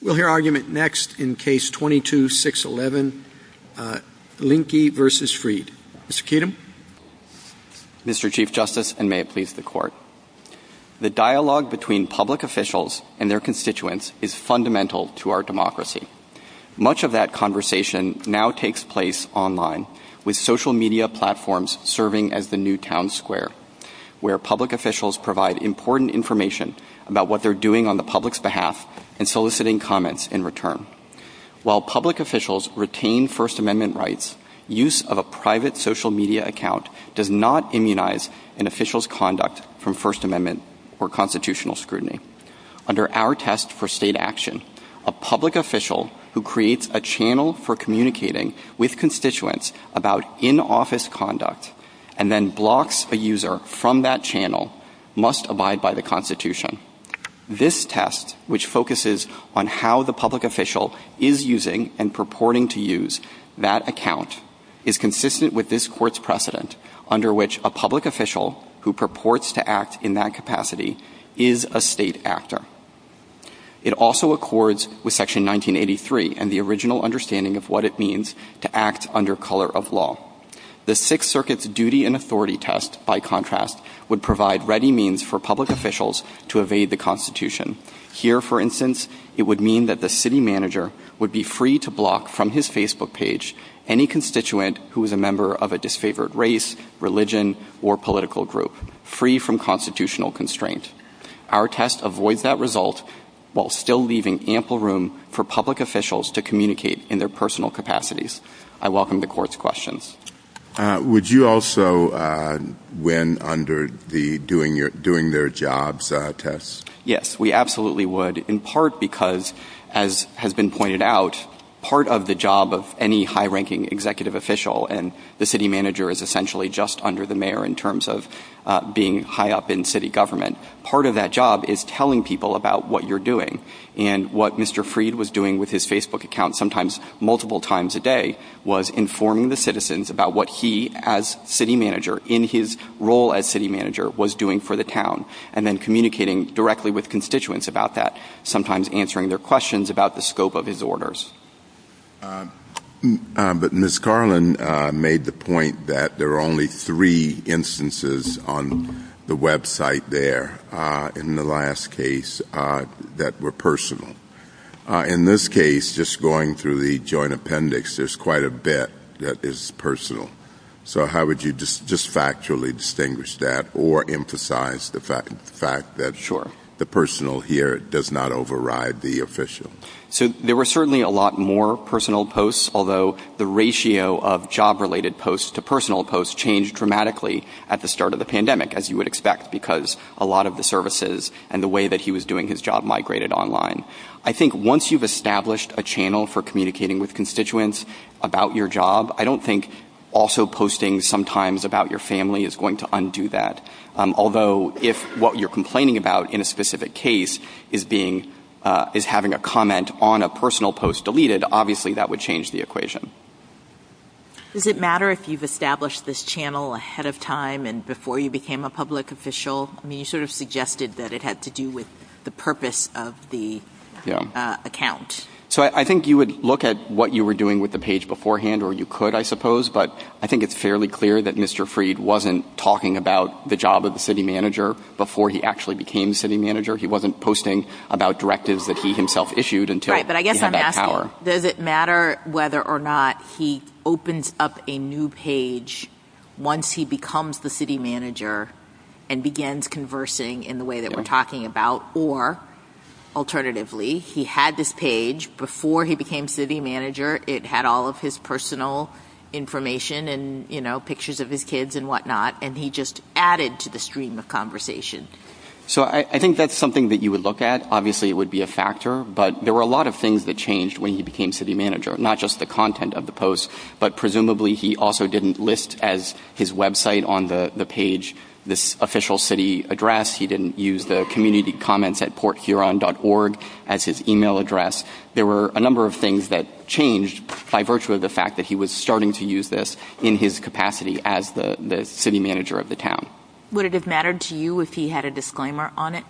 The dialogue between public officials and their constituents is fundamental to our democracy. Much of that conversation now takes place online, with social media platforms serving as the new town square, where public officials provide important information about what they're doing on the public's behalf and soliciting input from the public. While public officials retain First Amendment rights, use of a private social media account does not immunize an official's conduct from First Amendment or constitutional scrutiny. Under our test for state action, a public official who creates a channel for communicating with constituents about in-office conduct and then blocks a user from that channel must abide by the Constitution. This test, which focuses on how the public official is using and purporting to use that account, is consistent with this Court's precedent, under which a public official who purports to act in that capacity is a state actor. It also accords with Section 1983 and the original understanding of what it means to act under color of law. The Sixth Circuit's duty and authority test, by contrast, would provide ready means for public officials to evade the Constitution. Here, for instance, it would mean that the city manager would be free to block from his Facebook page any constituent who is a member of a disfavored race, religion, or political group, free from constitutional constraint. Our test avoids that result while still leaving ample room for public officials to communicate in their personal capacities. I welcome the Court's questions. Would you also win under the doing their jobs test? Mr. Carlin made the point that there are only three instances on the website there, in the last case, that were personal. In this case, just going through the joint appendix, there's quite a bit that is personal. So how would you just factually distinguish that or emphasize the fact that the personal here does not override the official? So there were certainly a lot more personal posts, although the ratio of job-related posts to personal posts changed dramatically at the start of the pandemic, as you would expect, because a lot of the services and the way that he was doing his job migrated online. I think once you've established a channel for communicating with constituents about your job, I don't think also posting sometimes about your family is going to undo that. Although, if what you're complaining about in a specific case is having a comment on a personal post deleted, obviously that would change the equation. Does it matter if you've established this channel ahead of time and before you became a public official? You sort of suggested that it had to do with the purpose of the account. So I think you would look at what you were doing with the page beforehand, or you could, I suppose. But I think it's fairly clear that Mr. Freed wasn't talking about the job of the city manager before he actually became city manager. He wasn't posting about directives that he himself issued until he had that power. Does it matter whether or not he opens up a new page once he becomes the city manager and begins conversing in the way that we're talking about? Or, alternatively, he had this page before he became city manager. It had all of his personal information and pictures of his kids and whatnot, and he just added to the stream of conversation. So I think that's something that you would look at. Obviously it would be a factor, but there were a lot of things that changed when he became city manager. Not just the content of the post, but presumably he also didn't list as his website on the page this official city address. He didn't use the community comments at porthuron.org as his email address. There were a number of things that changed by virtue of the fact that he was starting to use this in his capacity as the city manager of the town. Would it have mattered to you if he had a disclaimer on it?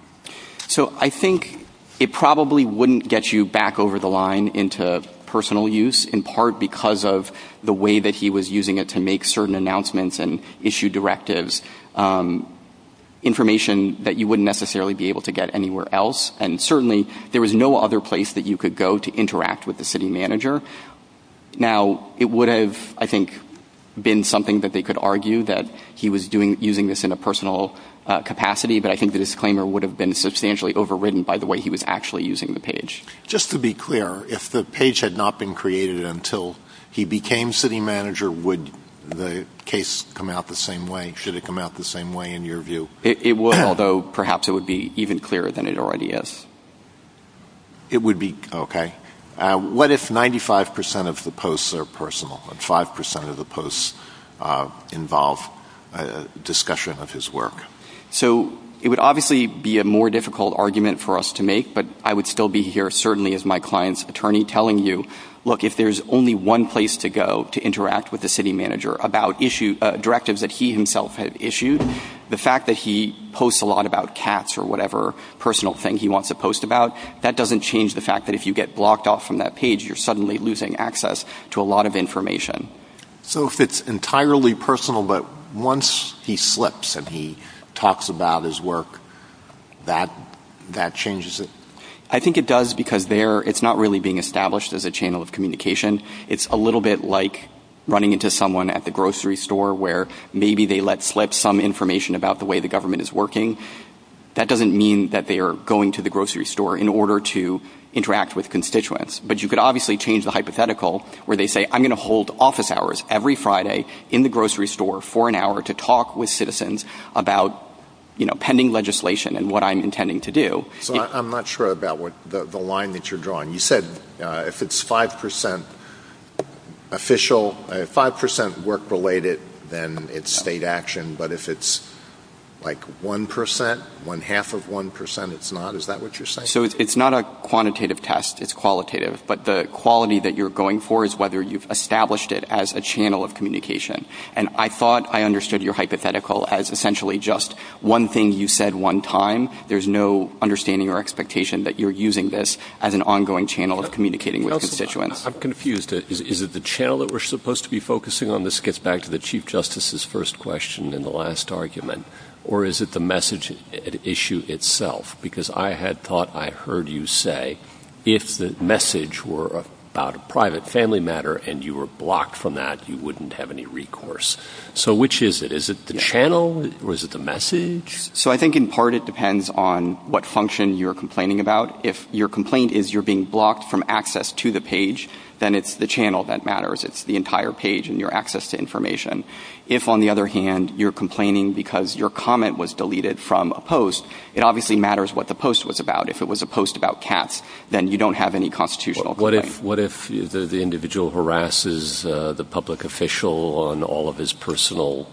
So I think it probably wouldn't get you back over the line into personal use, in part because of the way that he was using it to make certain announcements and issue directives, information that you wouldn't necessarily be able to get anywhere else. And certainly there was no other place that you could go to interact with the city manager. Now, it would have, I think, been something that they could argue that he was using this in a personal capacity, but I think the disclaimer would have been substantially overridden by the way he was actually using the page. Just to be clear, if the page had not been created until he became city manager, would the case come out the same way? Should it come out the same way in your view? It would, although perhaps it would be even clearer than it already is. It would be, okay. What if 95% of the posts are personal and 5% of the posts involve discussion of his work? So it would obviously be a more difficult argument for us to make, but I would still be here certainly as my client's attorney telling you, look, if there's only one place to go to interact with the city manager about directives that he himself had issued, the fact that he posts a lot about cats or whatever personal thing he wants to post about, that doesn't change the fact that if you get blocked off from that page, you're suddenly losing access to a lot of information. So if it's entirely personal, but once he slips and he talks about his work, that changes it? I think it does because it's not really being established as a channel of communication. It's a little bit like running into someone at the grocery store where maybe they let slip some information about the way the government is working. That doesn't mean that they are going to the grocery store in order to interact with constituents, but you could obviously change the hypothetical where they say, I'm going to hold office hours every Friday in the grocery store for an hour to talk with citizens about pending legislation and what I'm intending to do. So I'm not sure about the line that you're drawing. You said if it's 5% official, 5% work-related, then it's state action, but if it's like 1%, when half of 1% it's not, is that what you're saying? So it's not a quantitative test. It's qualitative. But the quality that you're going for is whether you've established it as a channel of communication. And I thought I understood your hypothetical as essentially just one thing you said one time. There's no understanding or expectation that you're using this as an ongoing channel of communicating with constituents. I'm confused. Is it the channel that we're supposed to be focusing on? This gets back to the Chief Justice's first question in the last argument. Or is it the message at issue itself? Because I had thought I heard you say if the message were about a private family matter and you were blocked from that, you wouldn't have any recourse. So which is it? Is it the channel or is it the message? So I think in part it depends on what function you're complaining about. If your complaint is you're being blocked from access to the page, then it's the channel that matters. It's the entire page and your access to information. If, on the other hand, you're complaining because your comment was deleted from a post, it obviously matters what the post was about. If it was a post about cats, then you don't have any constitutional claim. What if the individual harasses the public official on all of his personal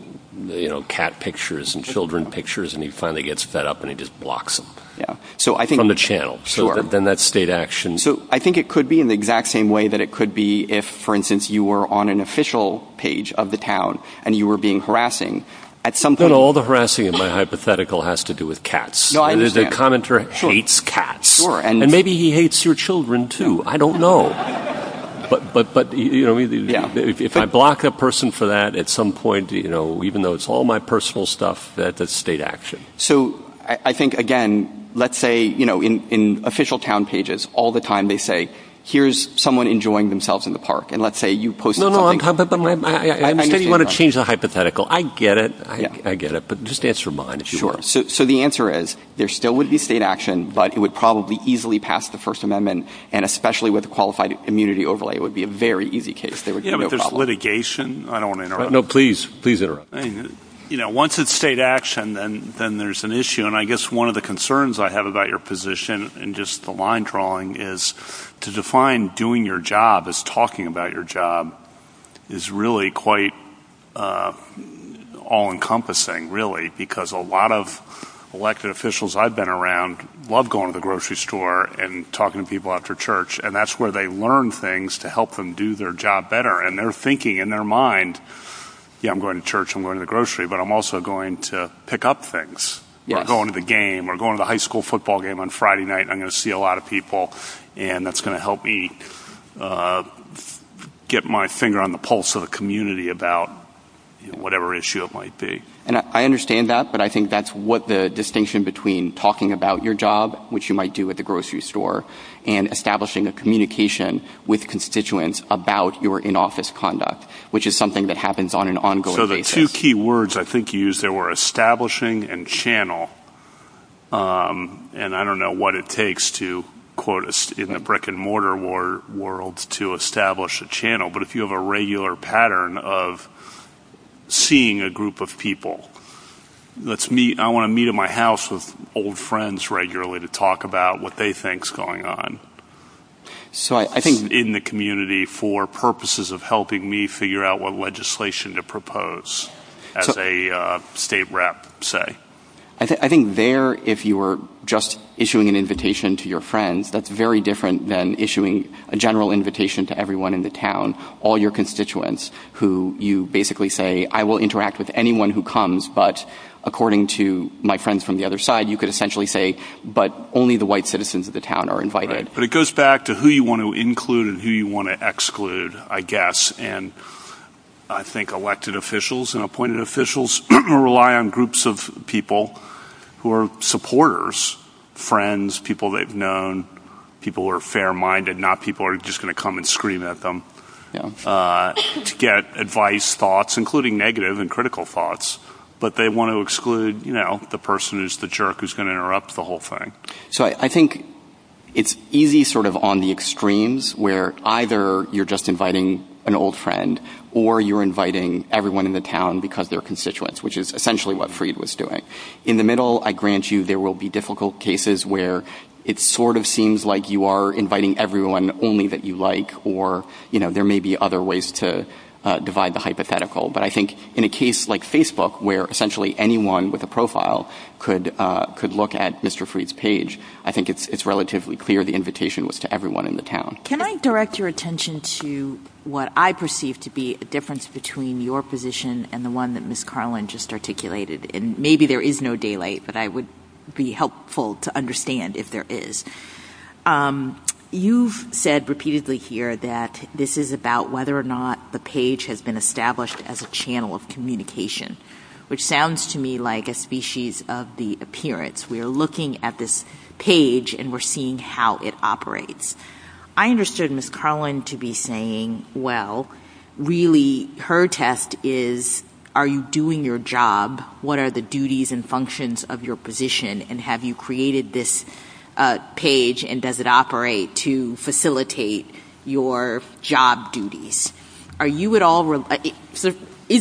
cat pictures and children pictures and he finally gets fed up and he just blocks him from the channel? Sure. Then that's state action. So I think it could be in the exact same way that it could be if, for instance, you were on an official page of the town and you were being harassing. But all the harassing in my hypothetical has to do with cats. The commenter hates cats. And maybe he hates your children, too. I don't know. But if I block a person for that, at some point, even though it's all my personal stuff, that's state action. So I think, again, let's say in official town pages, all the time they say, here's someone enjoying themselves in the park. And let's say you posted something. I don't want to change the hypothetical. I get it. I get it. But just ask your mind. So the answer is there still would be state action, but it would probably easily pass the First Amendment. And especially with a qualified immunity overlay, it would be a very easy case. There's litigation. I don't want to interrupt. No, please. Please interrupt. Once it's state action, then there's an issue. And I guess one of the concerns I have about your position and just the line drawing is to define doing your job as talking about your job is really quite all-encompassing, really, because a lot of elected officials I've been around love going to the grocery store and talking to people after church, and that's where they learn things to help them do their job better. And they're thinking in their mind, yeah, I'm going to church, I'm going to the grocery, but I'm also going to pick up things. We're going to the game. We're going to the high school football game on Friday night, and I'm going to see a lot of people, and that's going to help me get my finger on the pulse of a community about whatever issue it might be. And I understand that, but I think that's what the distinction between talking about your job, which you might do at the grocery store, and establishing a communication with constituents about your in-office conduct, which is something that happens on an ongoing basis. So the two key words I think you used there were establishing and channel, and I don't know what it takes to, in the brick-and-mortar world, to establish a channel, but if you have a regular pattern of seeing a group of people. I want to meet at my house with old friends regularly to talk about what they think is going on. In the community for purposes of helping me figure out what legislation to propose, as a state rep, say. I think there, if you were just issuing an invitation to your friends, that's very different than issuing a general invitation to everyone in the town, all your constituents, who you basically say, I will interact with anyone who comes, but according to my friends from the other side, you could essentially say, but only the white citizens of the town are invited. But it goes back to who you want to include and who you want to exclude, I guess, and I think elected officials and appointed officials rely on groups of people who are supporters, friends, people they've known, people who are fair-minded, not people who are just going to come and scream at them to get advice, thoughts, including negative and critical thoughts, but they want to exclude the person who's the jerk who's going to interrupt the whole thing. So I think it's easy sort of on the extremes, where either you're just inviting an old friend, or you're inviting everyone in the town because they're constituents, which is essentially what Freed was doing. In the middle, I grant you, there will be difficult cases where it sort of seems like you are inviting everyone only that you like, or there may be other ways to divide the hypothetical, but I think in a case like Facebook, where essentially anyone with a profile could look at Mr. Freed's page, I think it's relatively clear the invitation was to everyone in the town. Can I direct your attention to what I perceive to be a difference between your position and the one that Ms. Carlin just articulated? And maybe there is no daylight, but I would be helpful to understand if there is. You've said repeatedly here that this is about whether or not the page has been established as a channel of communication, which sounds to me like a species of the appearance. We are looking at this page, and we're seeing how it operates. I understood Ms. Carlin to be saying, well, really her test is, are you doing your job? What are the duties and functions of your position? And have you created this page, and does it operate to facilitate your job duties? Is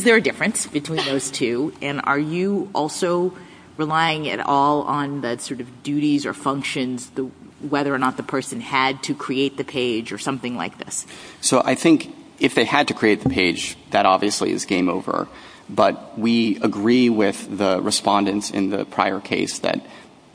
there a difference between those two, and are you also relying at all on the duties or functions, whether or not the person had to create the page or something like this? I think if they had to create the page, that obviously is game over. But we agree with the respondents in the prior case that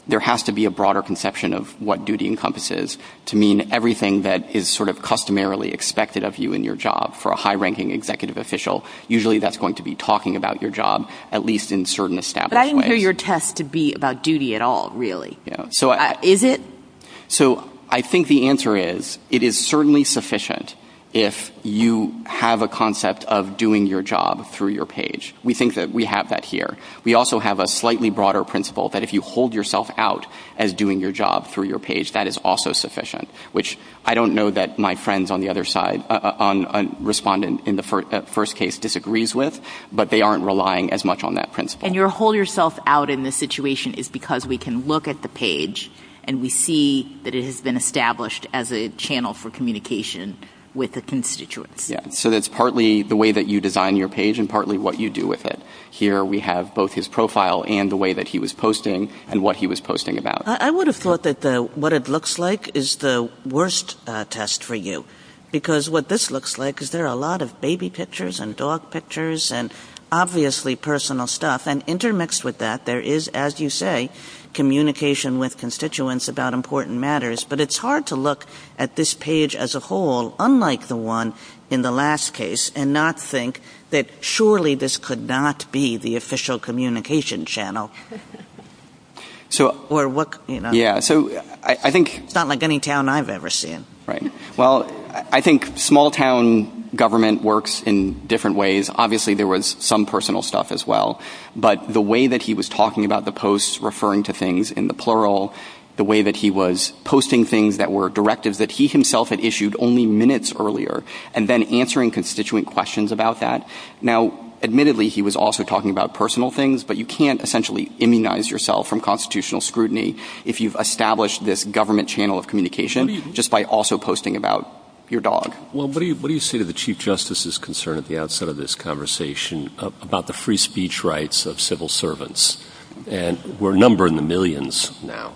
there has to be a broader conception of what duty encompasses to mean everything that is customarily expected of you in your job. For a high-ranking executive official, usually that's going to be talking about your job, at least in a certain established way. But I didn't hear your test to be about duty at all, really. Is it? I think the answer is, it is certainly sufficient if you have a concept of doing your job through your page. We think that we have that here. We also have a slightly broader principle that if you hold yourself out as doing your job through your page, that is also sufficient, which I don't know that my friends on the other side, a respondent in the first case disagrees with, but they aren't relying as much on that principle. And your hold yourself out in this situation is because we can look at the page and we see that it has been established as a channel for communication with its constituents. So that's partly the way that you design your page and partly what you do with it. Here we have both his profile and the way that he was posting and what he was posting about. I would have thought that what it looks like is the worst test for you, because what this looks like is there are a lot of baby pictures and dog pictures and obviously personal stuff. And intermixed with that, there is, as you say, communication with constituents about important matters. But it's hard to look at this page as a whole, unlike the one in the last case, and not think that surely this could not be the official communication channel. Yeah, so I think... It's not like any town I've ever seen. Right. Well, I think small-town government works in different ways. Obviously, there was some personal stuff as well, but the way that he was talking about the posts, referring to things in the plural, the way that he was posting things that were directives that he himself had issued only minutes earlier, and then answering constituent questions about that. Now, admittedly, he was also talking about personal things, but you can't essentially immunize yourself from constitutional scrutiny if you've established this government channel of communication just by also posting about your dog. Well, what do you say to the Chief Justice's concern at the outset of this conversation about the free speech rights of civil servants? And we're numbering the millions now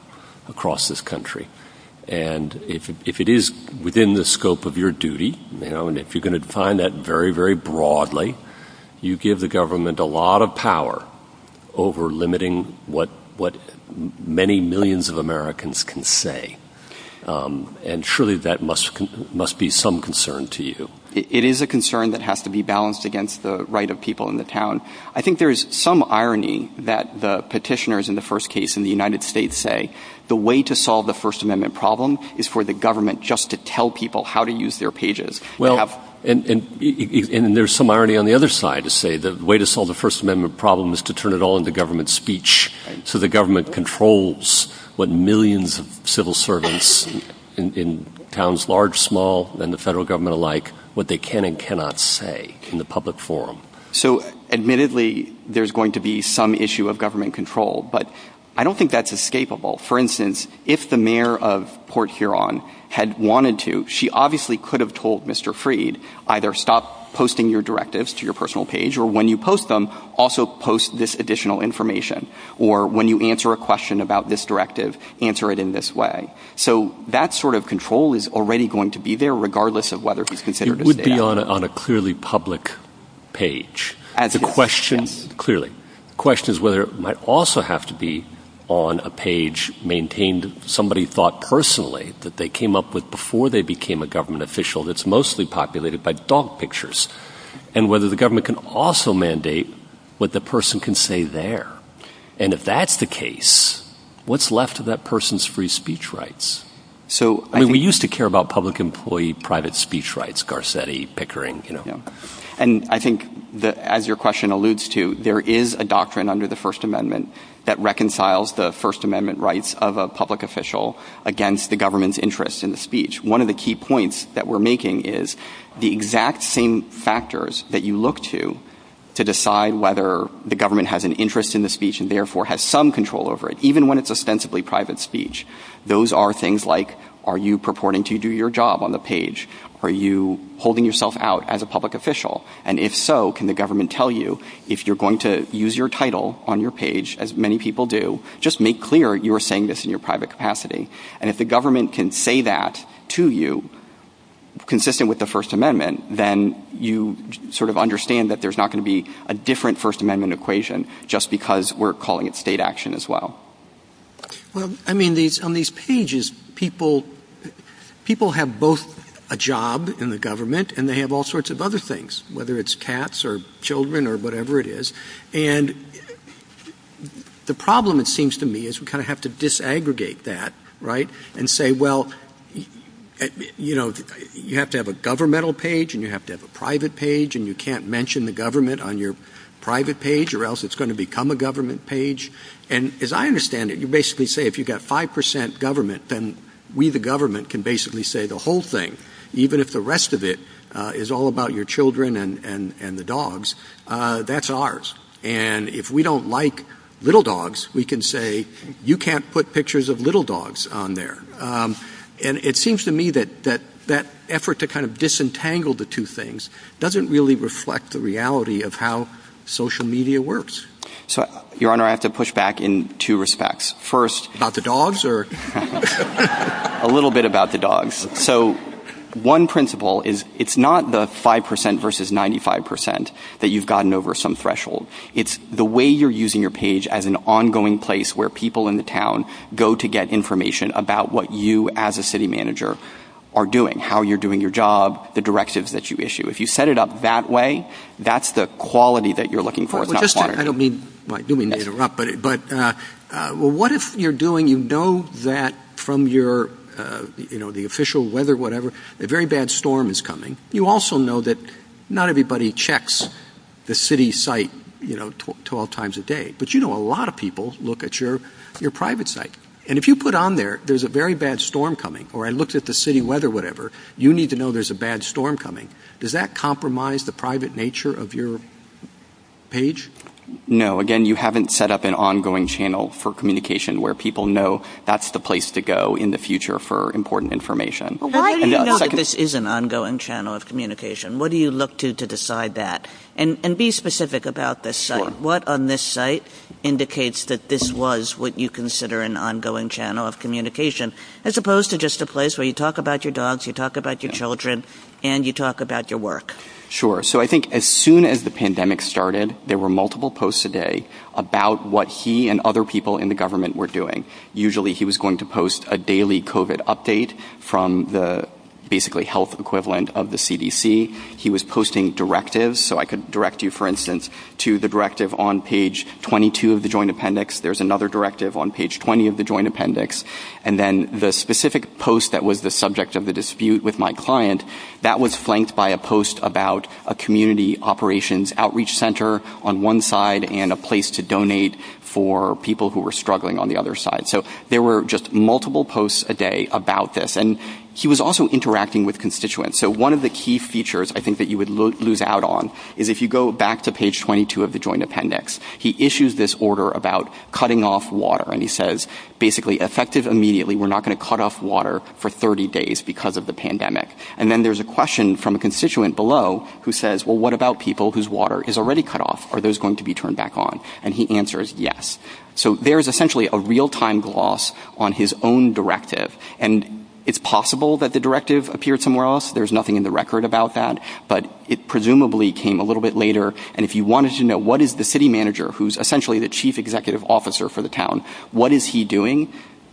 across this country. And if it is within the scope of your duty, and if you're going to define that very, very broadly, you give the government a lot of power over limiting what many millions of Americans can say. And surely that must be some concern to you. It is a concern that has to be balanced against the right of people in the town. I think there is some irony that the petitioners in the first case in the United States say the way to solve the First Amendment problem is for the government just to tell people how to use their pages. Well, and there's some irony on the other side to say the way to solve the First Amendment problem is to turn it all into government speech. So the government controls what millions of civil servants in towns large, small, and the federal government alike, what they can and cannot say in the public forum. So admittedly, there's going to be some issue of government control, but I don't think that's escapable. For instance, if the mayor of Port Huron had wanted to, she obviously could have told Mr. Freed, either stop posting your directives to your personal page or when you post them, also post this additional information. Or when you answer a question about this directive, answer it in this way. So that sort of control is already going to be there regardless of whether he's considered a... It would be on a clearly public page. The question... Clearly. The question is whether it might also have to be on a page maintained that somebody thought personally that they came up with before they became a government official that's mostly populated by dog pictures, and whether the government can also mandate what the person can say there. And if that's the case, what's left of that person's free speech rights? I mean, we used to care about public employee private speech rights, Garcetti, Pickering, you know. And I think, as your question alludes to, there is a doctrine under the First Amendment that reconciles the First Amendment rights of a public official against the government's interest in the speech. One of the key points that we're making is the exact same factors that you look to to decide whether the government has an interest in the speech and therefore has some control over it, even when it's ostensibly private speech, those are things like, are you purporting to do your job on the page? Are you holding yourself out as a public official? And if so, can the government tell you, if you're going to use your title on your page, as many people do, just make clear you're saying this in your private capacity. And if the government can say that to you, consistent with the First Amendment, then you sort of understand that there's not going to be a different First Amendment equation just because we're calling it state action as well. Well, I mean, on these pages, people have both a job in the government and they have all sorts of other things, whether it's cats or children or whatever it is. And the problem, it seems to me, is we kind of have to disaggregate that, right? And say, well, you know, you have to have a governmental page and you have to have a private page and you can't mention the government on your private page or else it's going to become a government page. And as I understand it, you basically say if you've got 5% government, then we, the government, can basically say the whole thing, even if the rest of it is all about your children and the dogs. That's ours. And if we don't like little dogs, we can say you can't put pictures of little dogs on there. And it seems to me that that effort to kind of disentangle the two things doesn't really reflect the reality of how social media works. So, Your Honor, I have to push back in two respects. First... About the dogs or...? A little bit about the dogs. So one principle is it's not the 5% versus 95%. It's not that you've gotten over some threshold. It's the way you're using your page as an ongoing place where people in the town go to get information about what you as a city manager are doing, how you're doing your job, the directives that you issue. If you set it up that way, that's the quality that you're looking for. I don't mean to interrupt, but what if you're doing... You know that from your, you know, the official weather, whatever, a very bad storm is coming. You also know that not everybody checks the city site, you know, 12 times a day. But you know a lot of people look at your private site. And if you put on there, there's a very bad storm coming, or I looked at the city weather, whatever, you need to know there's a bad storm coming. Does that compromise the private nature of your page? No. Again, you haven't set up an ongoing channel for communication where people know that's the place to go in the future for important information. How do you know that this is an ongoing channel of communication? What do you look to to decide that? And be specific about this site. What on this site indicates that this was what you consider an ongoing channel of communication, as opposed to just a place where you talk about your dogs, you talk about your children, and you talk about your work? Sure. So I think as soon as the pandemic started, there were multiple posts a day about what he and other people in the government were doing. Usually he was going to post a daily COVID update from the basically health equivalent of the CDC. He was posting directives, so I could direct you, for instance, to the directive on page 22 of the Joint Appendix. There's another directive on page 20 of the Joint Appendix. And then the specific post that was the subject of the dispute with my client, that was flanked by a post about a community operations outreach center on one side and a place to donate for people who were struggling on the other side. So there were just multiple posts a day about this. And he was also interacting with constituents. So one of the key features I think that you would lose out on is if you go back to page 22 of the Joint Appendix, he issues this order about cutting off water. And he says, basically, effective immediately, we're not going to cut off water for 30 days because of the pandemic. And then there's a question from a constituent below who says, well, what about people whose water is already cut off? Are those going to be turned back on? And he answers, yes. So there is essentially a real-time gloss on his own directive. And it's possible that the directive appeared somewhere else. There's nothing in the record about that. But it presumably came a little bit later. And if you wanted to know what is the city manager, who's essentially the chief executive officer for the town, what is he doing,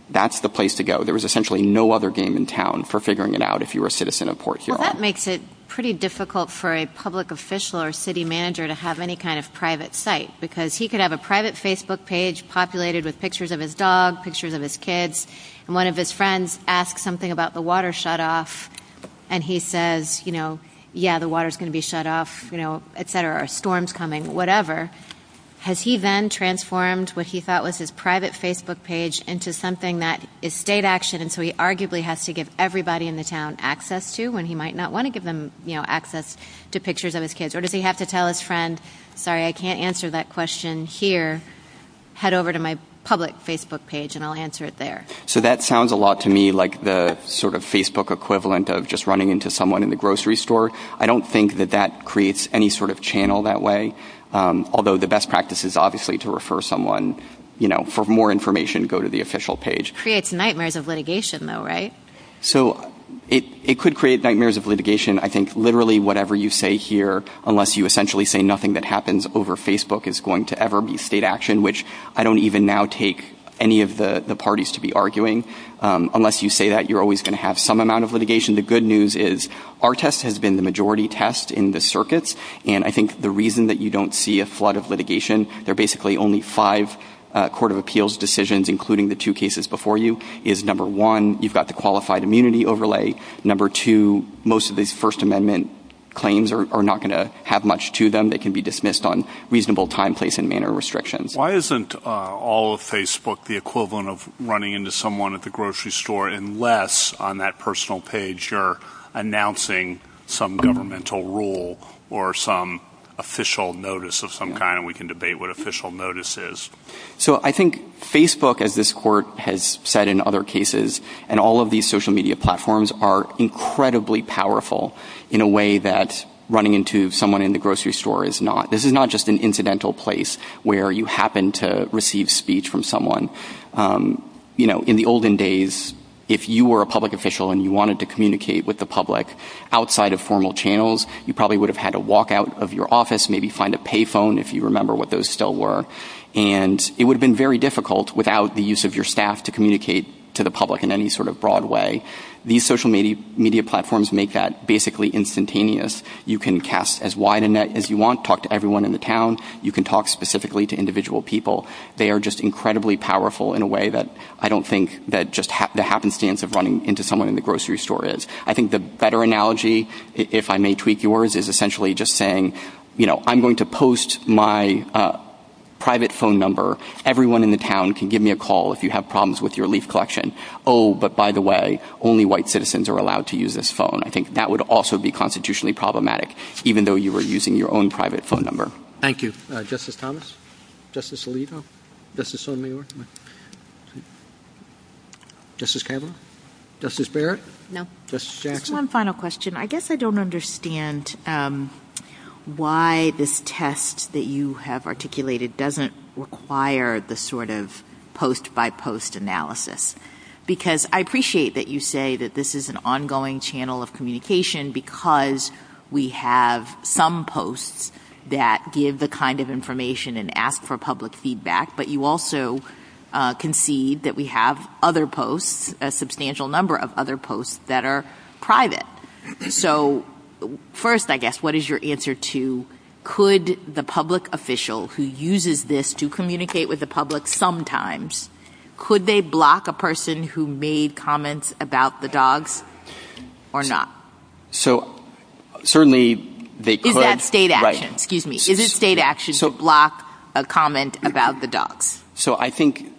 that's the place to go. There was essentially no other game in town for figuring it out if you were a citizen of Port Huron. Well, that makes it pretty difficult for a public official or city manager to have any kind of private site because he could have a private Facebook page populated with pictures of his dog, pictures of his kids. And one of his friends asks something about the water shut off. And he says, you know, yeah, the water's going to be shut off, you know, et cetera, a storm's coming, whatever. Has he then transformed what he thought was his private Facebook page into something that is state action and so he arguably has to give everybody in the town access to when he might not want to give them, you know, access to pictures of his kids? Or does he have to tell his friend, sorry, I can't answer that question here. Head over to my public Facebook page and I'll answer it there. So that sounds a lot to me like the sort of Facebook equivalent of just running into someone in the grocery store. I don't think that that creates any sort of channel that way. Although the best practice is obviously to refer someone, you know, for more information, go to the official page. It creates nightmares of litigation though, right? So it could create nightmares of litigation. I think literally whatever you say here, unless you essentially say nothing that happens over Facebook is going to ever be state action, which I don't even now take any of the parties to be arguing. Unless you say that, you're always going to have some amount of litigation. The good news is our test has been the majority test in the circuits and I think the reason that you don't see a flood of litigation, there are basically only five court of appeals decisions including the two cases before you, is number one, you've got the qualified immunity overlay. Number two, most of these First Amendment claims are not going to have much to them. They can be dismissed on reasonable time, place and manner restrictions. Why isn't all of Facebook the equivalent of running into someone at the grocery store unless on that personal page you're announcing some governmental rule or some official notice of some kind and we can debate what official notice is? So I think Facebook, as this court has said in other cases, and all of these social media platforms are incredibly powerful in a way that running into someone in the grocery store is not. This is not just an incidental place where you happen to receive speech from someone. In the olden days, if you were a public official and you wanted to communicate with the public outside of formal channels, you probably would have had to walk out of your office, maybe find a pay phone if you remember what those still were and it would have been very difficult without the use of your staff to communicate to the public in any sort of broad way. These social media platforms make that basically instantaneous. You can cast as wide a net as you want, talk to everyone in the town. You can talk specifically to individual people. They are just incredibly powerful in a way that I don't think that just the happenstance of running into someone in the grocery store is. I think the better analogy, if I may tweak yours, is essentially just saying, you know, I'm going to post my private phone number. Everyone in the town can give me a call if you have problems with your leaf collection. Oh, but by the way, only white citizens are allowed to use this phone. I think that would also be constitutionally problematic, even though you were using your own private phone number. Thank you. Justice Thomas? Justice Alito? Justice Sotomayor? Justice Kavanaugh? Justice Barrett? No. Justice Jackson? One final question. I guess I don't understand why this test that you have articulated doesn't require the sort of post-by-post analysis. Because I appreciate that you say that this is an ongoing channel of communication because we have some posts that give the kind of information and ask for public feedback, but you also concede that we have other posts, a substantial number of other posts, that are private. So first, I guess, what is your answer to, could the public official who uses this to communicate with the public sometimes, could they block a person who made comments about the dogs or not? So certainly they could... Is that state action? Excuse me. Is it state action to block a comment about the dogs? So I think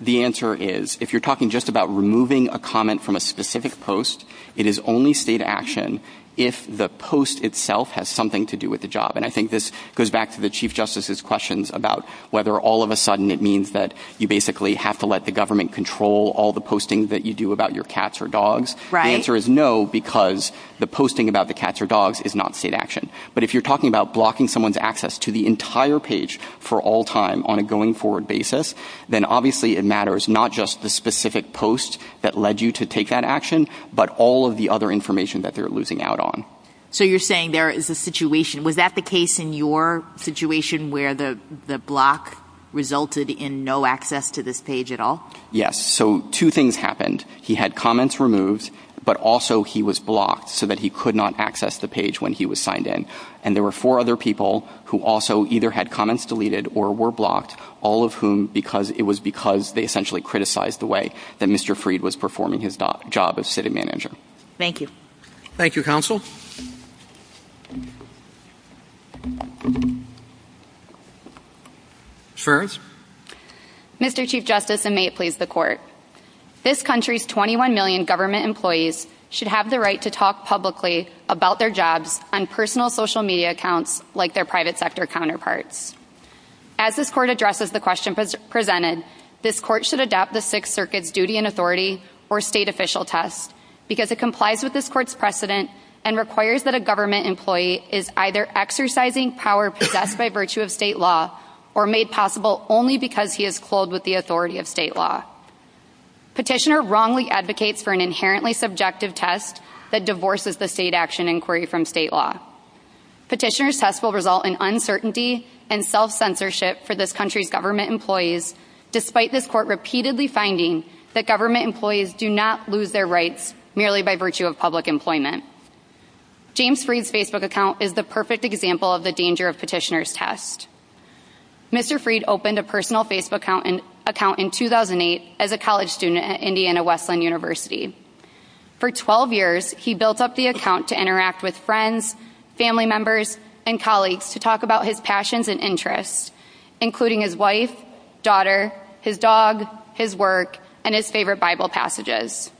the answer is, if you're talking just about removing a comment from a specific post, it is only state action if the post itself has something to do with the job. And I think this goes back to the Chief Justice's questions about whether all of a sudden it means that you basically have to let the government control all the posting that you do about your cats or dogs. The answer is no, because the posting about the cats or dogs is not state action. But if you're talking about blocking someone's access to the entire page for all time on a going-forward basis, then obviously it matters not just the specific post that led you to take that action, but all of the other information that they're losing out on. So you're saying there is a situation. Was that the case in your situation where the block resulted in no access to this page at all? Yes. So two things happened. He had comments removed, but also he was blocked so that he could not access the page when he was signed in. And there were four other people who also either had comments deleted or were blocked, all of whom because it was because they essentially criticized the way that Mr. Freed was performing his job as city manager. Thank you. Thank you, Counsel. Ms. Ferris. Mr. Chief Justice, and may it please the Court, this country's 21 million government employees should have the right to talk publicly about their jobs on personal social media accounts like their private sector counterparts. As this Court addresses the question presented, this Court should adapt the Sixth Circuit's duty and authority or state official test because it complies with this Court's precedent and requires that a government employee is either exercising power possessed by virtue of state law or made possible only because he is clothed with the authority of state law. Petitioner wrongly advocates for an inherently subjective test that divorces the state action inquiry from state law. Petitioner's test will result in uncertainty and self-censorship for this country's government employees despite this Court repeatedly finding that government employees do not lose their rights merely by virtue of public employment. James Freed's Facebook account is the perfect example of the danger of petitioner's test. Mr. Freed opened a personal Facebook account in 2008 as a college student at Indiana Wesleyan University. For 12 years, he built up the account to interact with friends, family members, and colleagues to talk about his passions and interests, including his wife, daughter, his dog, his work, and his favorite Bible passages.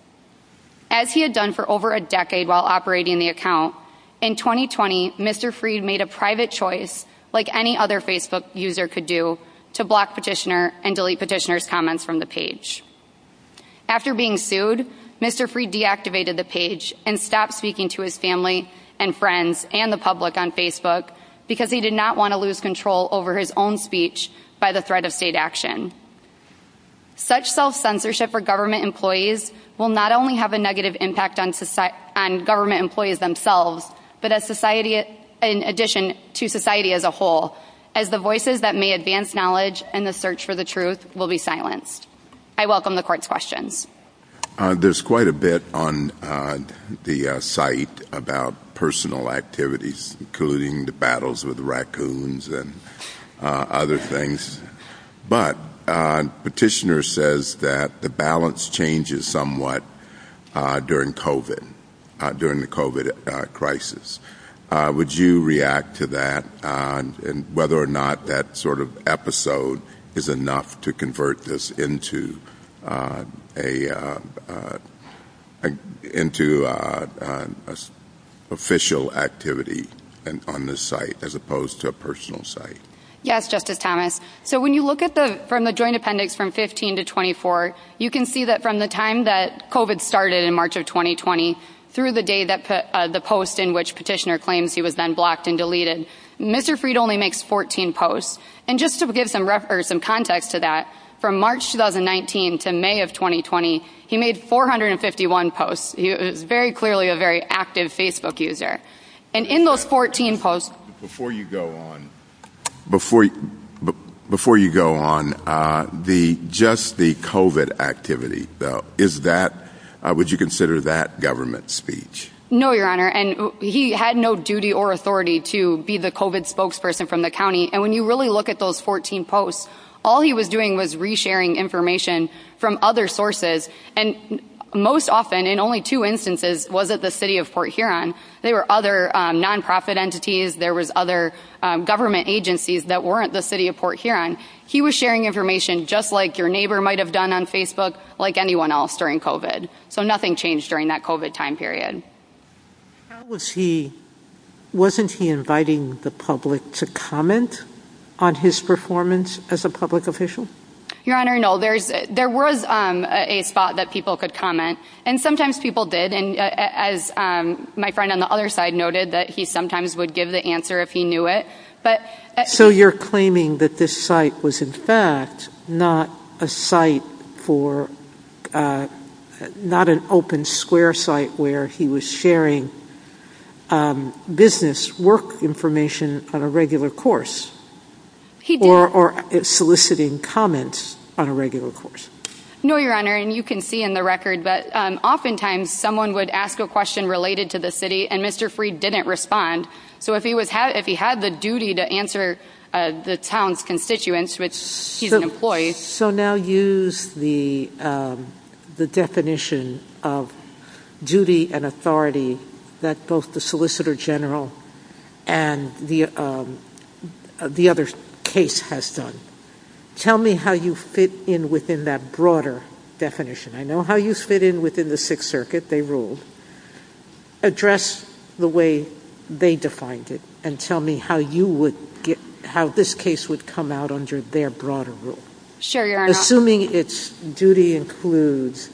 As he had done for over a decade while operating the account, in 2020, Mr. Freed made a private choice, like any other Facebook user could do, to block petitioner and delete petitioner's comments from the page. After being sued, Mr. Freed deactivated the page and stopped speaking to his family and friends and the public on Facebook because he did not want to lose control over his own speech by the threat of state action. Such self-censorship for government employees will not only have a negative impact on government employees themselves, but in addition to society as a whole, as the voices that may advance knowledge and the search for the truth will be silenced. I welcome the court's questions. There's quite a bit on the site about personal activities, including the battles with raccoons and other things. But petitioner says that the balance changes somewhat during COVID, during the COVID crisis. Would you react to that and whether or not that sort of episode is enough to convert this into an official activity on this site as opposed to a personal site? Yes, Justice Thomas. So when you look from the joint appendix from 15 to 24, you can see that from the time that COVID started in March of 2020 through the day that the post in which petitioner claims he was then blocked and deleted, Mr. Freed only makes 14 posts. And just to give some context to that, from March 2019 to May of 2020, he made 451 posts. He was very clearly a very active Facebook user. And in those 14 posts... Before you go on, just the COVID activity, would you consider that government speech? No, Your Honor. And he had no duty or authority to be the COVID spokesperson from the county. And when you really look at those 14 posts, all he was doing was resharing information from other sources. And most often, in only two instances, was at the city of Fort Huron. There were other nonprofit entities. There was other government agencies that weren't the city of Fort Huron. He was sharing information just like your neighbor might have done on Facebook, like anyone else during COVID. So nothing changed during that COVID time period. Wasn't he inviting the public to comment on his performance as a public official? Your Honor, no. There was a thought that people could comment, and sometimes people did. And as my friend on the other side noted, that he sometimes would give the answer if he knew it. So you're claiming that this site was, in fact, not a site for... not an open square site where he was sharing business work information on a regular course. He did. Or soliciting comments on a regular course. No, Your Honor. And you can see in the record that oftentimes someone would ask a question related to the city, and Mr. Freed didn't respond. So if he had the duty to answer the town's constituents, which he's an employee... So now use the definition of duty and authority that both the Solicitor General and the other case has done. Tell me how you fit in within that broader definition. I know how you fit in within the Sixth Circuit. They ruled. Address the way they defined it and tell me how this case would come out under their broader rule. Sure, Your Honor. Assuming its duty includes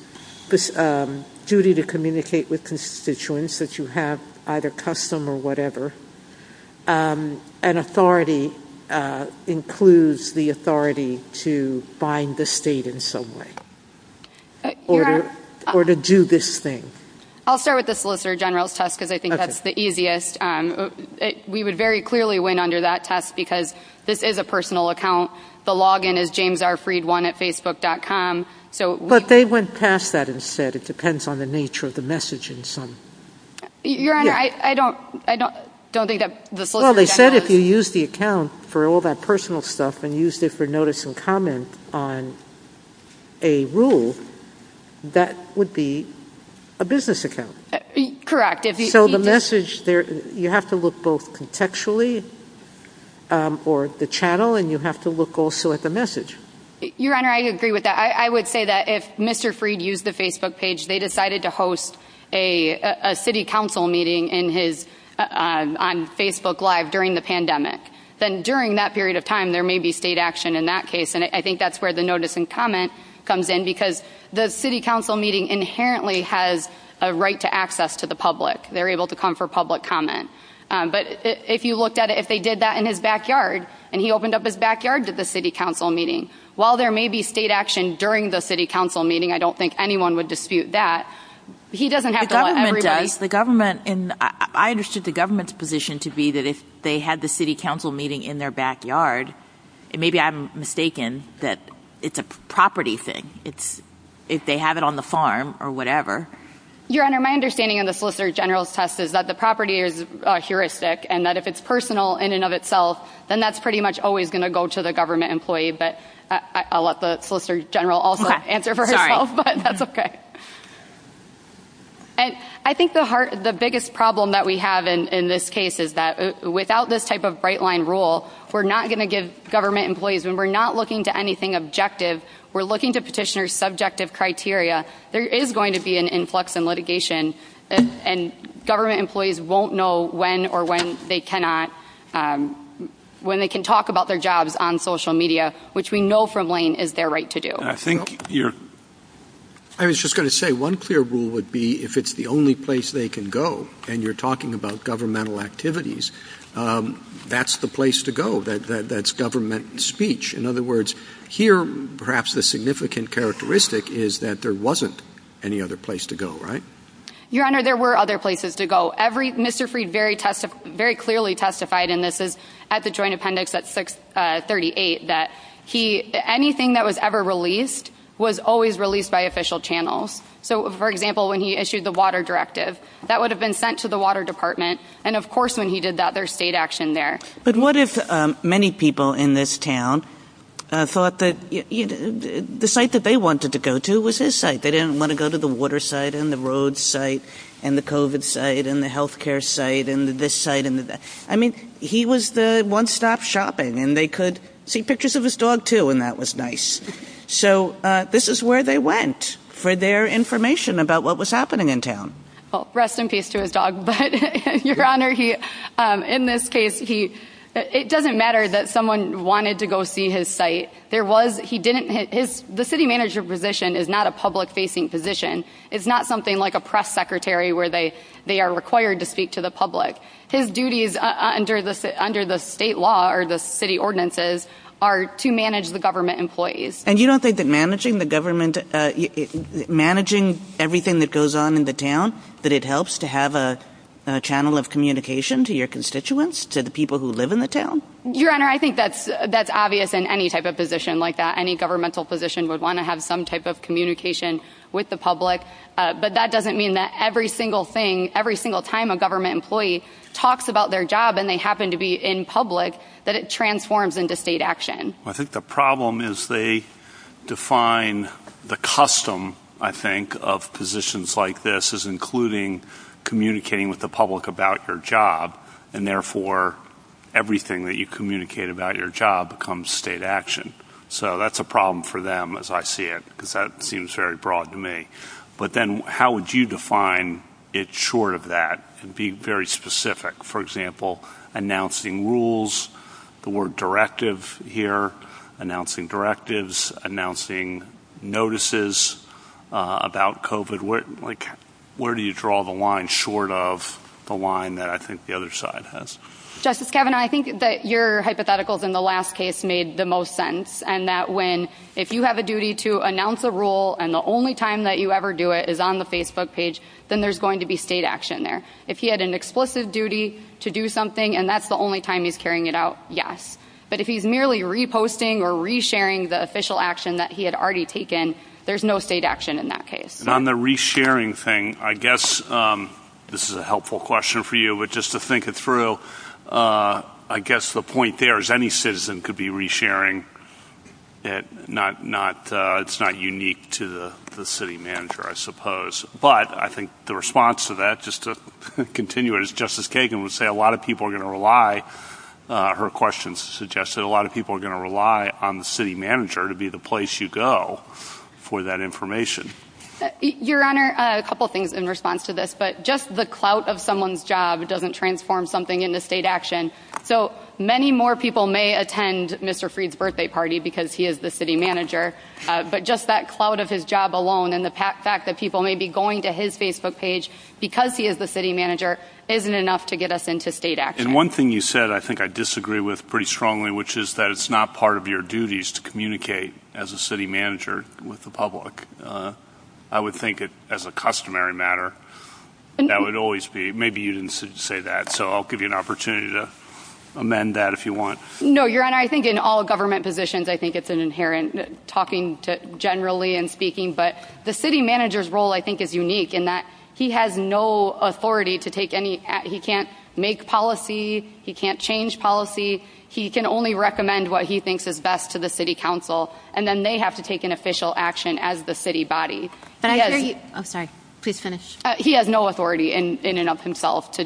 the duty to communicate with constituents that you have either custom or whatever, and authority includes the authority to find the state in some way, or to do this thing. I'll start with the Solicitor General's test because I think that's the easiest. We would very clearly win under that test because this is a personal account. The login is jamesrfreed1 at facebook.com. But they went past that and said it depends on the nature of the message in some... Your Honor, I don't think that the Solicitor General... Well, they said if you use the account for all that personal stuff and used it for notice and comment on a rule, that would be a business account. Correct. So the message there... You have to look both contextually or the channel, and you have to look also at the message. Your Honor, I agree with that. I would say that if Mr. Freed used the Facebook page, they decided to host a city council meeting on Facebook Live during the pandemic, then during that period of time there may be state action in that case. And I think that's where the notice and comment comes in because the city council meeting inherently has a right to access to the public. They're able to come for public comment. But if you looked at it, if they did that in his backyard and he opened up his backyard to the city council meeting, while there may be state action during the city council meeting, I don't think anyone would dispute that. He doesn't have to let everybody... The government... I understood the government's position to be that if they had the city council meeting in their backyard, maybe I'm mistaken, that it's a property thing. It's if they have it on the farm or whatever. Your Honor, my understanding of the Solicitor General's test is that the property is heuristic and that if it's personal in and of itself, then that's pretty much always going to go to the government employee. But I'll let the Solicitor General also answer for herself. Sorry. But that's OK. And I think the biggest problem that we have in this case is that without this type of bright-line rule, we're not going to give government employees... And we're not looking to anything objective. We're looking to petitioners' subjective criteria. There is going to be an influx in litigation, and government employees won't know when or when they cannot... when they can talk about their jobs on social media, which we know from Lane is their right to do. I think you're... I was just going to say, one clear rule would be if it's the only place they can go and you're talking about governmental activities, that's the place to go. That's government speech. In other words, here perhaps the significant characteristic is that there wasn't any other place to go, right? Your Honour, there were other places to go. Mr. Freed very clearly testified, and this is at the Joint Appendix at 638, that anything that was ever released was always released by official channels. So, for example, when he issued the water directive, that would have been sent to the Water Department, and of course when he did that, there's state action there. But what if many people in this town thought that... the site that they wanted to go to was his site? They didn't want to go to the water site and the road site and the COVID site and the health care site and this site and the... I mean, he was the one-stop shopping, and they could see pictures of his dog too, and that was nice. So, this is where they went for their information about what was happening in town. Well, rest in peace to his dog. But, Your Honour, in this case, it doesn't matter that someone wanted to go see his site. There was...he didn't... The city manager position is not a public-facing position. It's not something like a press secretary where they are required to speak to the public. His duties under the state law or the city ordinances are to manage the government employees. And you don't think that managing the government... managing everything that goes on in the town, that it helps to have a channel of communication to your constituents, to the people who live in the town? Your Honour, I think that's obvious in any type of position like that. Any governmental position would want to have some type of communication with the public. But that doesn't mean that every single thing, every single time a government employee talks about their job and they happen to be in public, that it transforms into state action. I think the problem is they define the custom, I think, of positions like this as including communicating with the public about your job, and therefore everything that you communicate about your job becomes state action. So that's a problem for them, as I see it, because that seems very broad to me. But then how would you define it short of that and be very specific? For example, announcing rules, the word directive here, announcing directives, announcing notices about COVID. Where do you draw the line short of the line that I think the other side has? Justice Kavanaugh, I think that your hypotheticals in the last case made the most sense, and that if you have a duty to announce a rule and the only time that you ever do it is on the Facebook page, then there's going to be state action there. If he had an explicit duty to do something and that's the only time he's carrying it out, yes. But if he's merely reposting or resharing the official action that he had already taken, there's no state action in that case. On the resharing thing, I guess this is a helpful question for you, but just to think it through, I guess the point there is any citizen could be resharing. It's not unique to the city manager, I suppose. But I think the response to that, just to continue, as Justice Kagan would say, a lot of people are going to rely, her questions suggest that a lot of people are going to rely on the city manager to be the place you go for that information. Your Honor, a couple of things in response to this, but just the clout of someone's job doesn't transform something into state action. So many more people may attend Mr. Freed's birthday party because he is the city manager, but just that clout of his job alone and the fact that people may be going to his Facebook page because he is the city manager isn't enough to get us into state action. And one thing you said I think I disagree with pretty strongly, which is that it's not part of your duties to communicate as a city manager with the public. I would think as a customary matter, that would always be, maybe you didn't say that, so I'll give you an opportunity to amend that if you want. No, Your Honor, I think in all government positions, I think it's inherent, talking generally and speaking, but the city manager's role I think is unique in that he has no authority to take any, he can't make policy, he can't change policy, he can only recommend what he thinks is best to the city council, and then they have to take an official action as the city body. Oh, sorry, please finish. He has no authority in and of himself to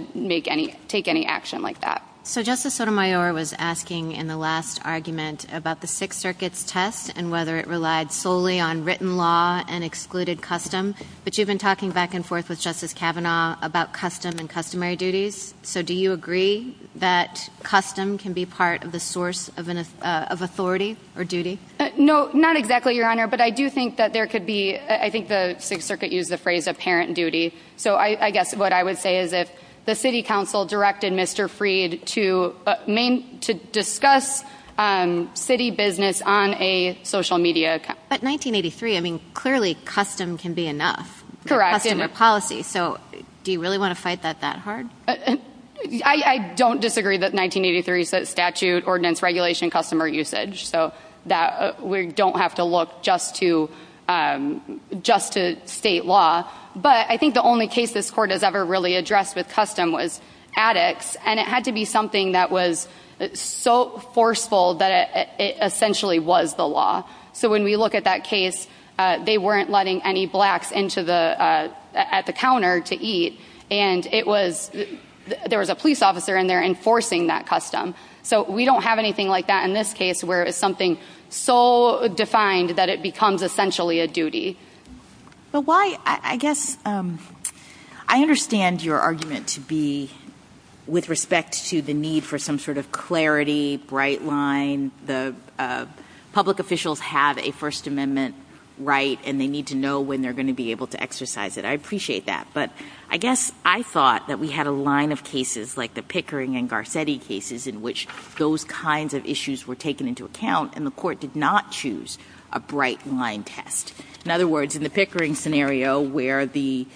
take any action like that. So Justice Sotomayor was asking in the last argument about the Sixth Circuit's test and whether it relied solely on written law and excluded custom, but you've been talking back and forth with Justice Kavanaugh about custom and customary duties, so do you agree that custom can be part of the source of authority or duty? No, not exactly, Your Honor, but I do think that there could be, I think the Sixth Circuit used the phrase apparent duty, so I guess what I would say is if the city council directed Mr. Freed to discuss city business on a social media account. But 1983, I mean, clearly custom can be enough. Correct. Customary policy, so do you really want to fight that that hard? I don't disagree that 1983 statute, ordinance, regulation, customer usage, so we don't have to look just to state law, but I think the only case this Court has ever really addressed with custom was addicts, and it had to be something that was so forceful that it essentially was the law. So when we look at that case, they weren't letting any blacks at the counter to eat, and there was a police officer in there enforcing that custom. So we don't have anything like that in this case where it's something so defined that it becomes essentially a duty. I guess I understand your argument to be with respect to the need for some sort of clarity, bright line. Public officials have a First Amendment right, and they need to know when they're going to be able to exercise it. I appreciate that, but I guess I thought that we had a line of cases like the Pickering and Garcetti cases in which those kinds of issues were taken into account, and the Court did not choose a bright line test. In other words, in the Pickering scenario where the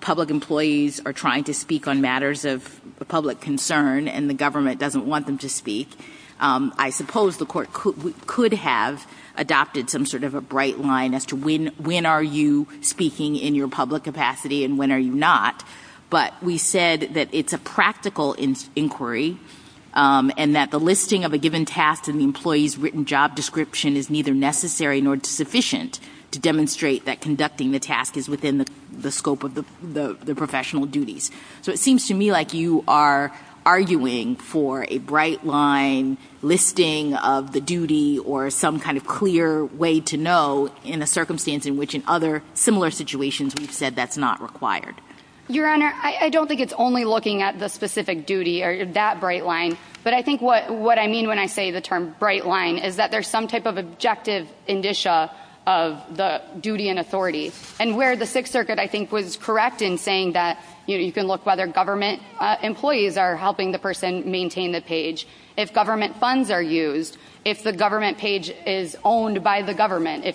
public employees are trying to speak on matters of public concern and the government doesn't want them to speak, I suppose the Court could have adopted some sort of a bright line as to when are you speaking in your public capacity and when are you not, but we said that it's a practical inquiry and that the listing of a given task and the employee's written job description is neither necessary nor sufficient to demonstrate that conducting the task is within the scope of the professional duties. So it seems to me like you are arguing for a bright line listing of the duty or some kind of clear way to know in a circumstance in which in other similar situations we've said that's not required. Your Honor, I don't think it's only looking at the specific duty or that bright line, but I think what I mean when I say the term bright line is that there's some type of objective indicia of the duty and authority, and where the Sixth Circuit, I think, was correct in saying that you can look whether government employees are helping the person maintain the page. If government funds are used, if the government page is owned by the government, in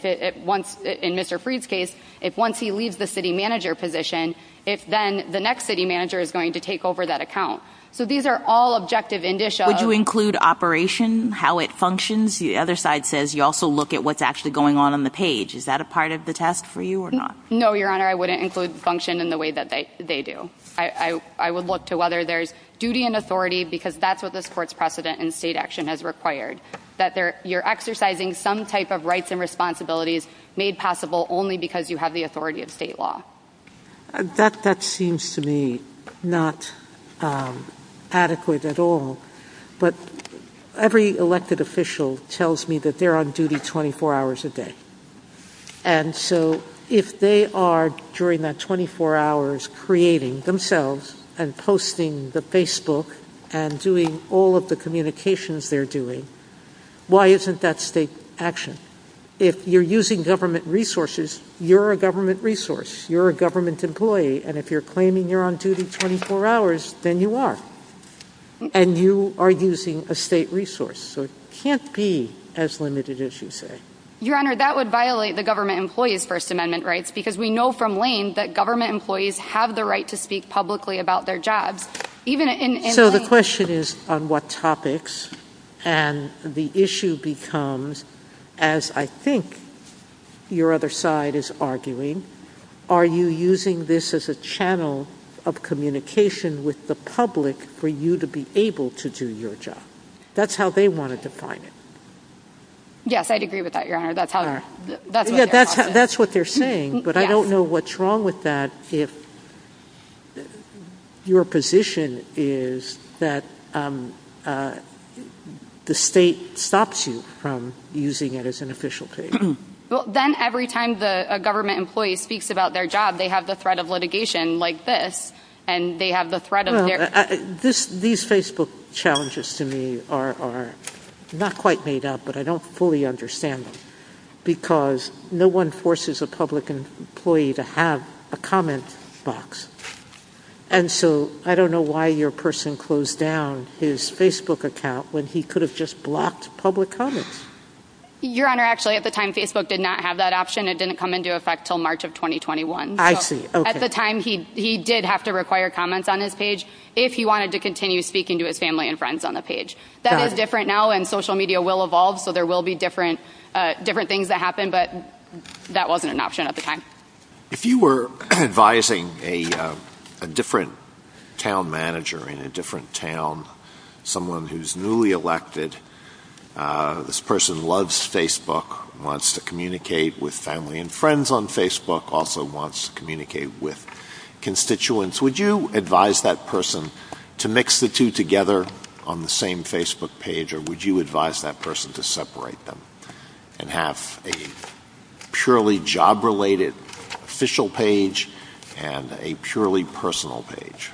Mr. Freed's case, if once he leaves the city manager position, then the next city manager is going to take over that account. So these are all objective indicia. Would you include operation, how it functions? The other side says you also look at what's actually going on on the page. Is that a part of the test for you or not? No, Your Honor, I wouldn't include function in the way that they do. I would look to whether there's duty and authority because that's what this Court's precedent in state action has required, that you're exercising some type of rights and responsibilities made possible only because you have the authority of state law. That seems to me not adequate at all, but every elected official tells me that they're on duty 24 hours a day. And so if they are, during that 24 hours, creating themselves and posting the Facebook and doing all of the communications they're doing, why isn't that state action? If you're using government resources, you're a government resource. You're a government employee, and if you're claiming you're on duty 24 hours, then you are, and you are using a state resource. So it can't be as limited as you say. Your Honor, that would violate the government employee's First Amendment rights because we know from Lane that government employees have the right to speak publicly about their jobs. So the question is on what topics, and the issue becomes, as I think your other side is arguing, are you using this as a channel of communication with the public for you to be able to do your job? That's how they want to define it. Yes, I'd agree with that, Your Honor. That's what they're saying, but I don't know what's wrong with that if your position is that the state stops you from using it as an official tool. Well, then every time a government employee speaks about their job, they have the threat of litigation like this, and they have the threat of this. These Facebook challenges to me are not quite made up, but I don't fully understand them because no one forces a public employee to have a comment box. And so I don't know why your person closed down his Facebook account when he could have just blocked public comment. Your Honor, actually, at the time, Facebook did not have that option. It didn't come into effect until March of 2021. I see. Okay. At the time, he did have to require comments on his page if he wanted to continue speaking to his family and friends on the page. That is different now, and social media will evolve, so there will be different things that happen, but that wasn't an option at the time. If you were advising a different town manager in a different town, someone who's newly elected, this person loves Facebook, wants to communicate with family and friends on Facebook, also wants to communicate with constituents, would you advise that person to mix the two together on the same Facebook page, or would you advise that person to separate them and have a purely job-related official page and a purely personal page?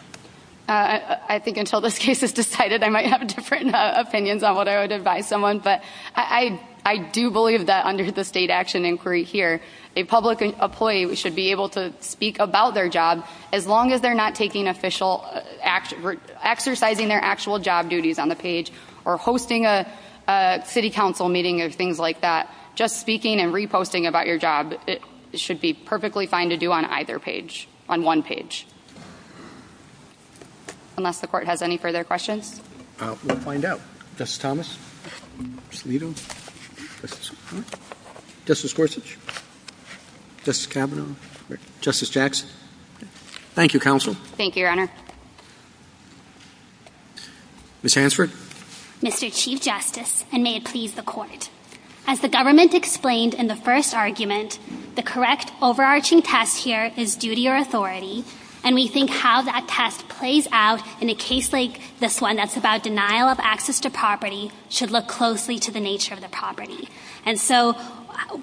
I think until this case is decided, I might have different opinions on what I would advise someone, but I do believe that under the state action inquiry here, a public employee should be able to speak about their job as long as they're not exercising their actual job duties on the page or hosting a city council meeting or things like that. Just speaking and reposting about your job, it should be perfectly fine to do on either page, on one page. Unless the court has any further questions. We'll find out. Justice Thomas? Mr. Lito? Justice Kavanaugh? Justice Gorsuch? Justice Kavanaugh? Justice Jackson? Thank you, Counsel. Thank you, Your Honor. Ms. Hansford? Mr. Chief Justice, and may it please the Court, as the government explained in the first argument, the correct overarching test here is duty or authority, and we think how that test plays out in a case like this one that's about denial of access to property should look closely to the nature of the property. And so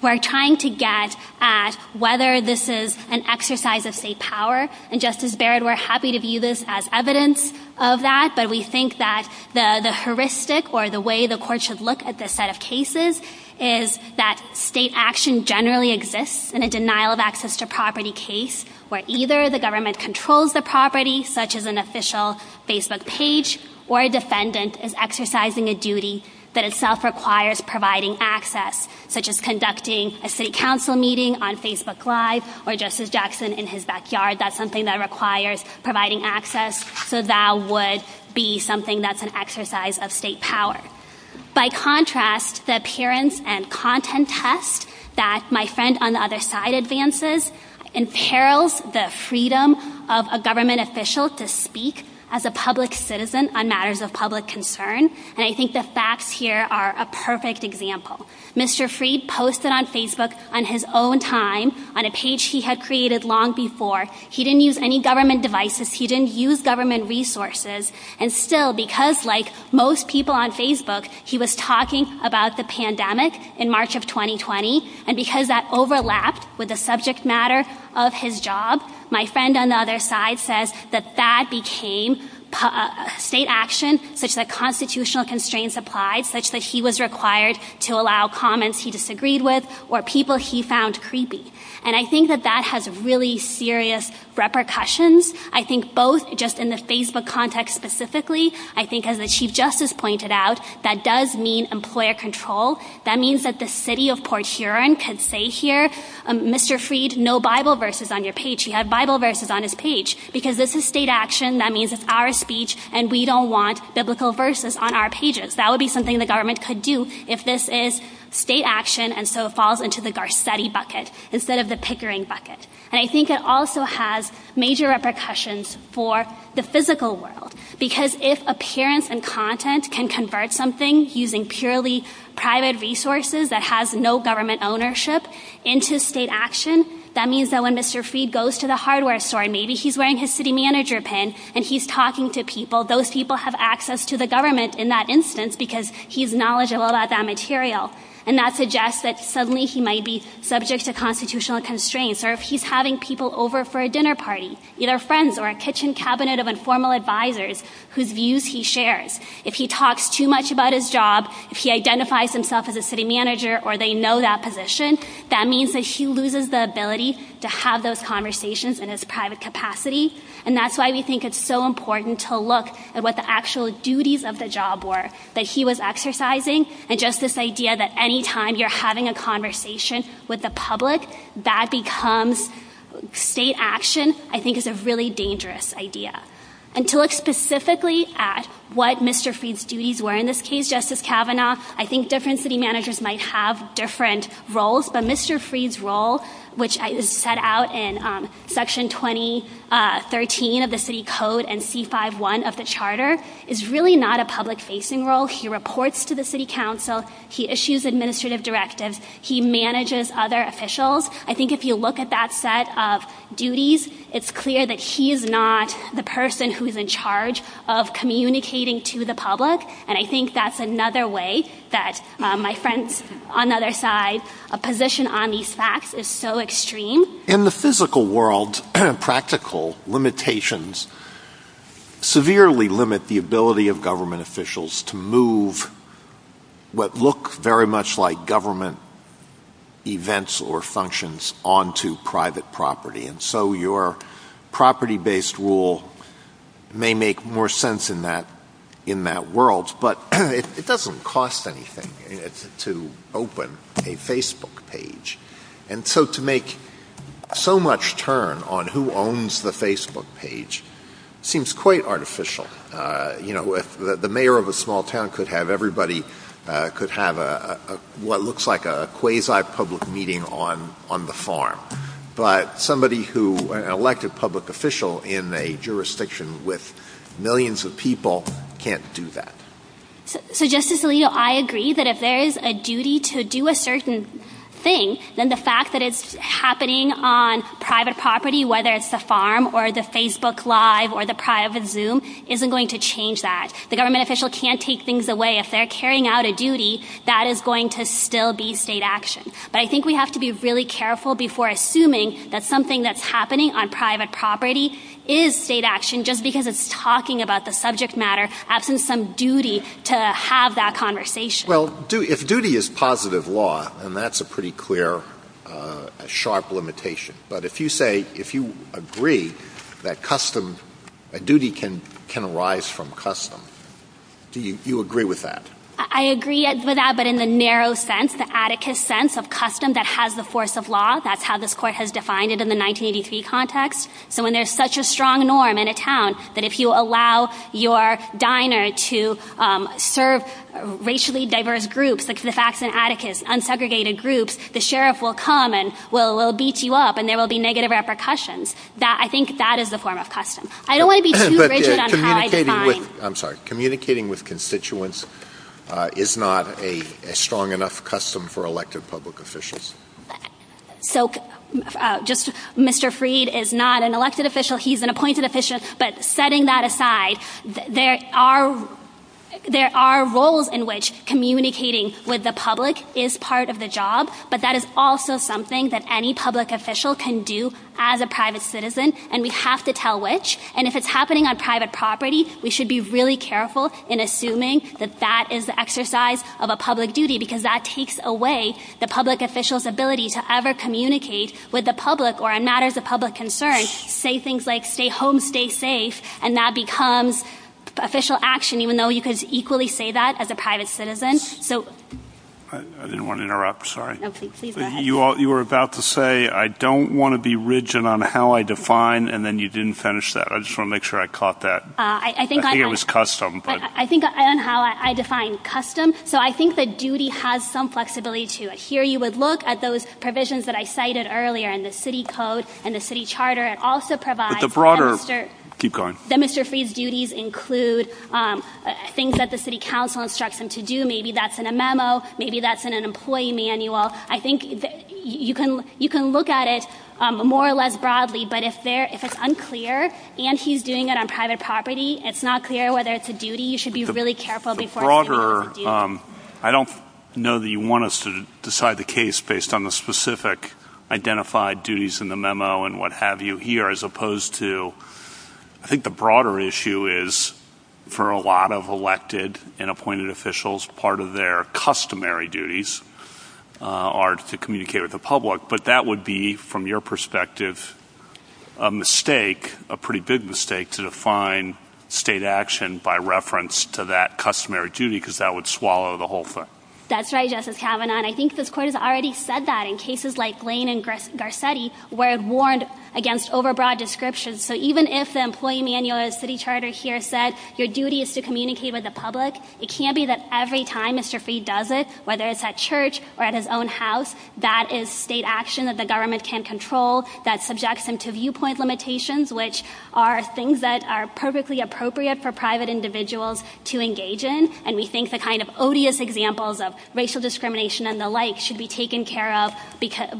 we're trying to get at whether this is an exercise of state power, and Justice Barrett, we're happy to view this as evidence of that, but we think that the heuristic or the way the court should look at this set of cases is that state action generally exists in a denial of access to property case where either the government controls the property, such as an official Facebook page, or a defendant is exercising a duty that itself requires providing access, such as conducting a city council meeting on Facebook Live or Justice Jackson in his backyard. That's something that requires providing access, so that would be something that's an exercise of state power. By contrast, the appearance and content test that my friend on the other side advances imperils the freedom of a government official to speak as a public citizen on matters of public concern, and I think the facts here are a perfect example. Mr. Freed posted on Facebook on his own time on a page he had created long before. He didn't use any government devices. He didn't use government resources. And still, because like most people on Facebook, he was talking about the pandemic in March of 2020, and because that overlaps with the subject matter of his job, my friend on the other side says that that became state action, such that constitutional constraints applied, such that he was required to allow comments he disagreed with or people he found creepy, and I think that that has really serious repercussions. I think both just in the Facebook context specifically, I think as the Chief Justice pointed out, that does mean employer control. That means that the city of Port Huron could say here, Mr. Freed, no Bible verses on your page. You have Bible verses on his page. Because this is state action. That means it's our speech, and we don't want biblical verses on our pages. That would be something the government could do if this is state action, and so it falls into the Garcetti bucket instead of the Pickering bucket. And I think it also has major repercussions for the physical world, because if appearance and content can convert something using purely private resources that has no government ownership into state action, that means that when Mr. Freed goes to the hardware store, maybe he's wearing his city manager pin, and he's talking to people, those people have access to the government in that instance because he's knowledgeable about that material, and that suggests that suddenly he might be subject to constitutional constraints, or if he's having people over for a dinner party, either friends or a kitchen cabinet of informal advisors whose views he shares. If he talks too much about his job, if he identifies himself as a city manager or they know that position, that means that he loses the ability to have those conversations in his private capacity, and that's why we think it's so important to look at what the actual duties of the job were that he was exercising, and just this idea that any time you're having a conversation with the public, that becomes state action, I think is a really dangerous idea. And to look specifically at what Mr. Freed's duties were in this case, Justice Kavanaugh, I think different city managers might have different roles, but Mr. Freed's role, which is set out in Section 2013 of the City Code and C5-1 of the Charter, is really not a public-facing role. He reports to the City Council, he issues administrative directives, he manages other officials. I think if you look at that set of duties, it's clear that he is not the person who's in charge of communicating to the public, and I think that's another way that my friend on the other side, a position on these facts is so extreme. In the physical world, practical limitations severely limit the ability of government officials to move what look very much like government events or functions onto private property, and so your property-based rule may make more sense in that world, but it doesn't cost anything to open a Facebook page. And so to make so much turn on who owns the Facebook page seems quite artificial. You know, the mayor of a small town could have everybody, could have what looks like a quasi-public meeting on the farm, but somebody who, an elected public official in a jurisdiction with millions of people, can't do that. So Justice Alito, I agree that if there is a duty to do a certain thing, then the fact that it's happening on private property, whether it's the farm or the Facebook Live or the private Zoom, isn't going to change that. The government official can't take things away. If they're carrying out a duty, that is going to still be state action. But I think we have to be really careful before assuming that something that's happening on private property is state action just because it's talking about the subject matter after some duty to have that conversation. Well, if duty is positive law, then that's a pretty clear, sharp limitation. But if you say, if you agree that custom, that duty can arise from custom, do you agree with that? I agree with that, but in the narrow sense, the atticus sense of custom that has the force of law, that's how this court has defined it in the 1983 context. So when there's such a strong norm in a town, that if you allow your diner to serve racially diverse groups, the facts and atticus, unsegregated groups, the sheriff will come and will beat you up and there will be negative repercussions. I think that is a form of custom. I don't want to be too rigid. I'm sorry. Communicating with constituents is not a strong enough custom for elected public officials. So just Mr. Freed is not an elected official. He's an appointed official, but setting that aside, there are roles in which communicating with the public is part of the job, but that is also something that any public official can do as a private citizen, and we have to tell which, and if it's happening on private property, we should be really careful in assuming that that is the exercise of a public duty because that takes away the public official's ability to ever communicate with the public or in matters of public concern, say things like stay home, stay safe, and that becomes official action even though you could equally say that as a private citizen. I didn't want to interrupt. Sorry. You were about to say I don't want to be rigid on how I define, and then you didn't finish that. I just want to make sure I caught that. I think it was custom. I think on how I define custom, so I think that duty has some flexibility to it. Here you would look at those provisions that I cited earlier in the city code and the city charter. It also provides... But the broader... Keep going. ...that Mr. Freed's duties include things that the city council instructs him to do. Maybe that's in a memo. Maybe that's in an employee manual. I think you can look at it more or less broadly, but if it's unclear and he's doing it on private property, it's not clear whether it's a duty. You should be really careful before... The broader... I don't know that you want us to decide the case based on the specific identified duties in the memo and what have you here as opposed to... I think the broader issue is for a lot of elected and appointed officials, part of their customary duties are to communicate with the public, but that would be, from your perspective, a mistake, a pretty big mistake, to define state action by reference to that customary duty because that would swallow the whole thing. That's right, Justice Kavanaugh, and I think this court has already said that in cases like Lane and Garcetti where it warned against overbroad descriptions. So even if the employee manual of the city charter here said your duty is to communicate with the public, it can't be that every time Mr. Freed does it, whether it's at church or at his own house, that is state action that the government can't control that subjects him to viewpoint limitations, which are things that are perfectly appropriate for private individuals to engage in, and we think the kind of odious examples of racial discrimination and the like should be taken care of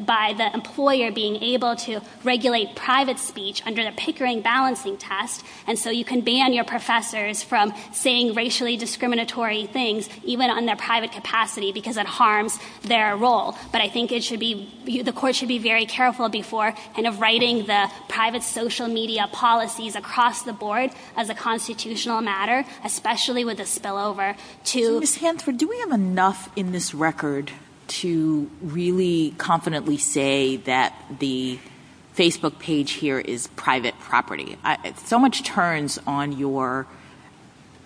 by the employer being able to regulate private speech under the Pickering balancing test, and so you can ban your professors from saying racially discriminatory things even in their private capacity because it harms their role, but I think it should be, the court should be very careful before kind of writing the private social media policies across the board as a constitutional matter, especially with the spillover to... Ms. Hansford, do we have enough in this record to really confidently say that the Facebook page here is private property? So much turns on your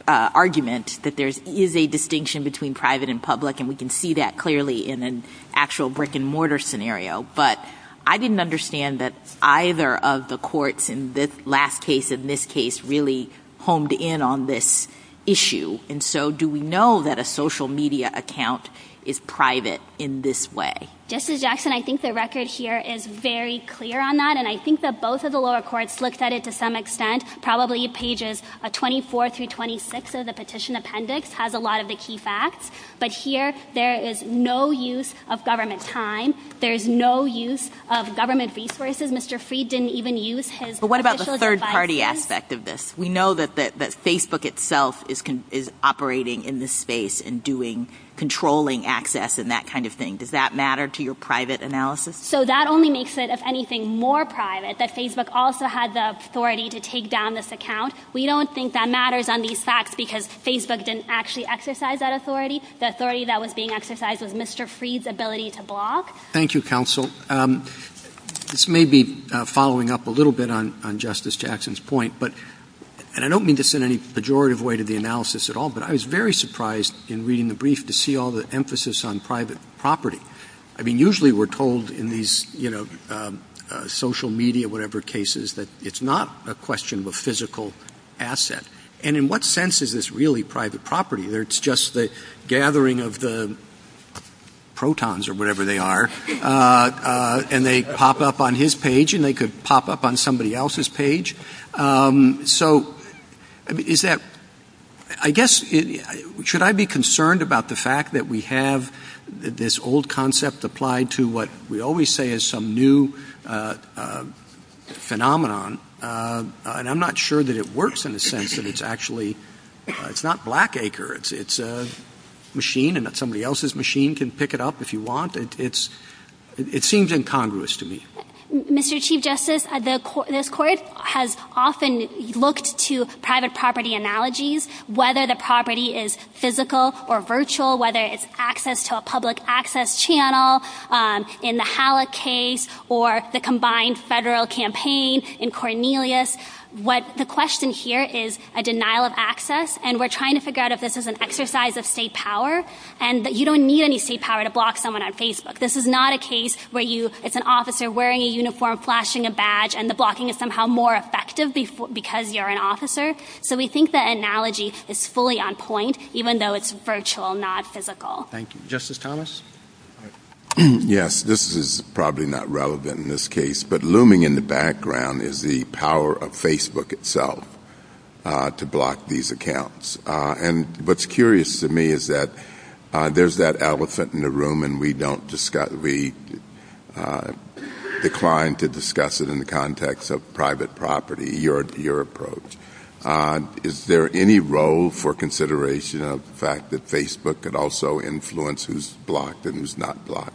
argument that there is a distinction between private and public, and we can see that clearly in an actual brick-and-mortar scenario, but I didn't understand that either of the courts in this last case and this case really honed in on this issue, and so do we know that a social media account is private in this way? Justice Jackson, I think the record here is very clear on that, and I think that both of the lower courts looked at it to some extent. Probably pages 24 through 26 of the petition appendix has a lot of the key facts, but here there is no use of government time. There is no use of government resources. Mr. Fried didn't even use his official device. But what about the third-party aspect of this? We know that Facebook itself is operating in this space and doing, controlling access and that kind of thing. Does that matter to your private analysis? So that only makes it, if anything, more private that Facebook also had the authority to take down this account. We don't think that matters on these facts because Facebook didn't actually exercise that authority. The authority that was being exercised was Mr. Fried's ability to block. Thank you, counsel. This may be following up a little bit on Justice Jackson's point, but I don't mean this in any pejorative way to the analysis at all, but I was very surprised in reading the brief to see all the emphasis on private property. I mean, usually we're told in these social media whatever cases that it's not a question of a physical asset. And in what sense is this really private property? It's just the gathering of the protons or whatever they are and they pop up on his page and they could pop up on somebody else's page. So is that, I guess, should I be concerned about the fact that we have this old concept applied to what we always say is some new phenomenon and I'm not sure that it works in the sense that it's actually, it's not Blackacre, it's a machine and that somebody else's machine can pick it up if you want. It seems incongruous to me. Mr. Chief Justice, this court has often looked to private property analogies, whether the property is physical or virtual, whether it's access to a public access channel in the Halle case or the combined federal campaign in Cornelius. The question here is a denial of access and we're trying to figure out if this is an exercise of state power and you don't need any state power to block someone on Facebook. This is not a case where it's an officer wearing a uniform, flashing a badge and the blocking is somehow more effective because you're an officer. So we think the analogy is fully on point even though it's virtual, not physical. Thank you. Justice Thomas? Yes, this is probably not relevant in this case, but looming in the background is the power of Facebook itself to block these accounts. And what's curious to me is that there's that elephant in the room and we don't discuss, we decline to discuss it in the context of private property, your approach. Is there any role for consideration of the fact that Facebook could also influence who's blocked and who's not blocked?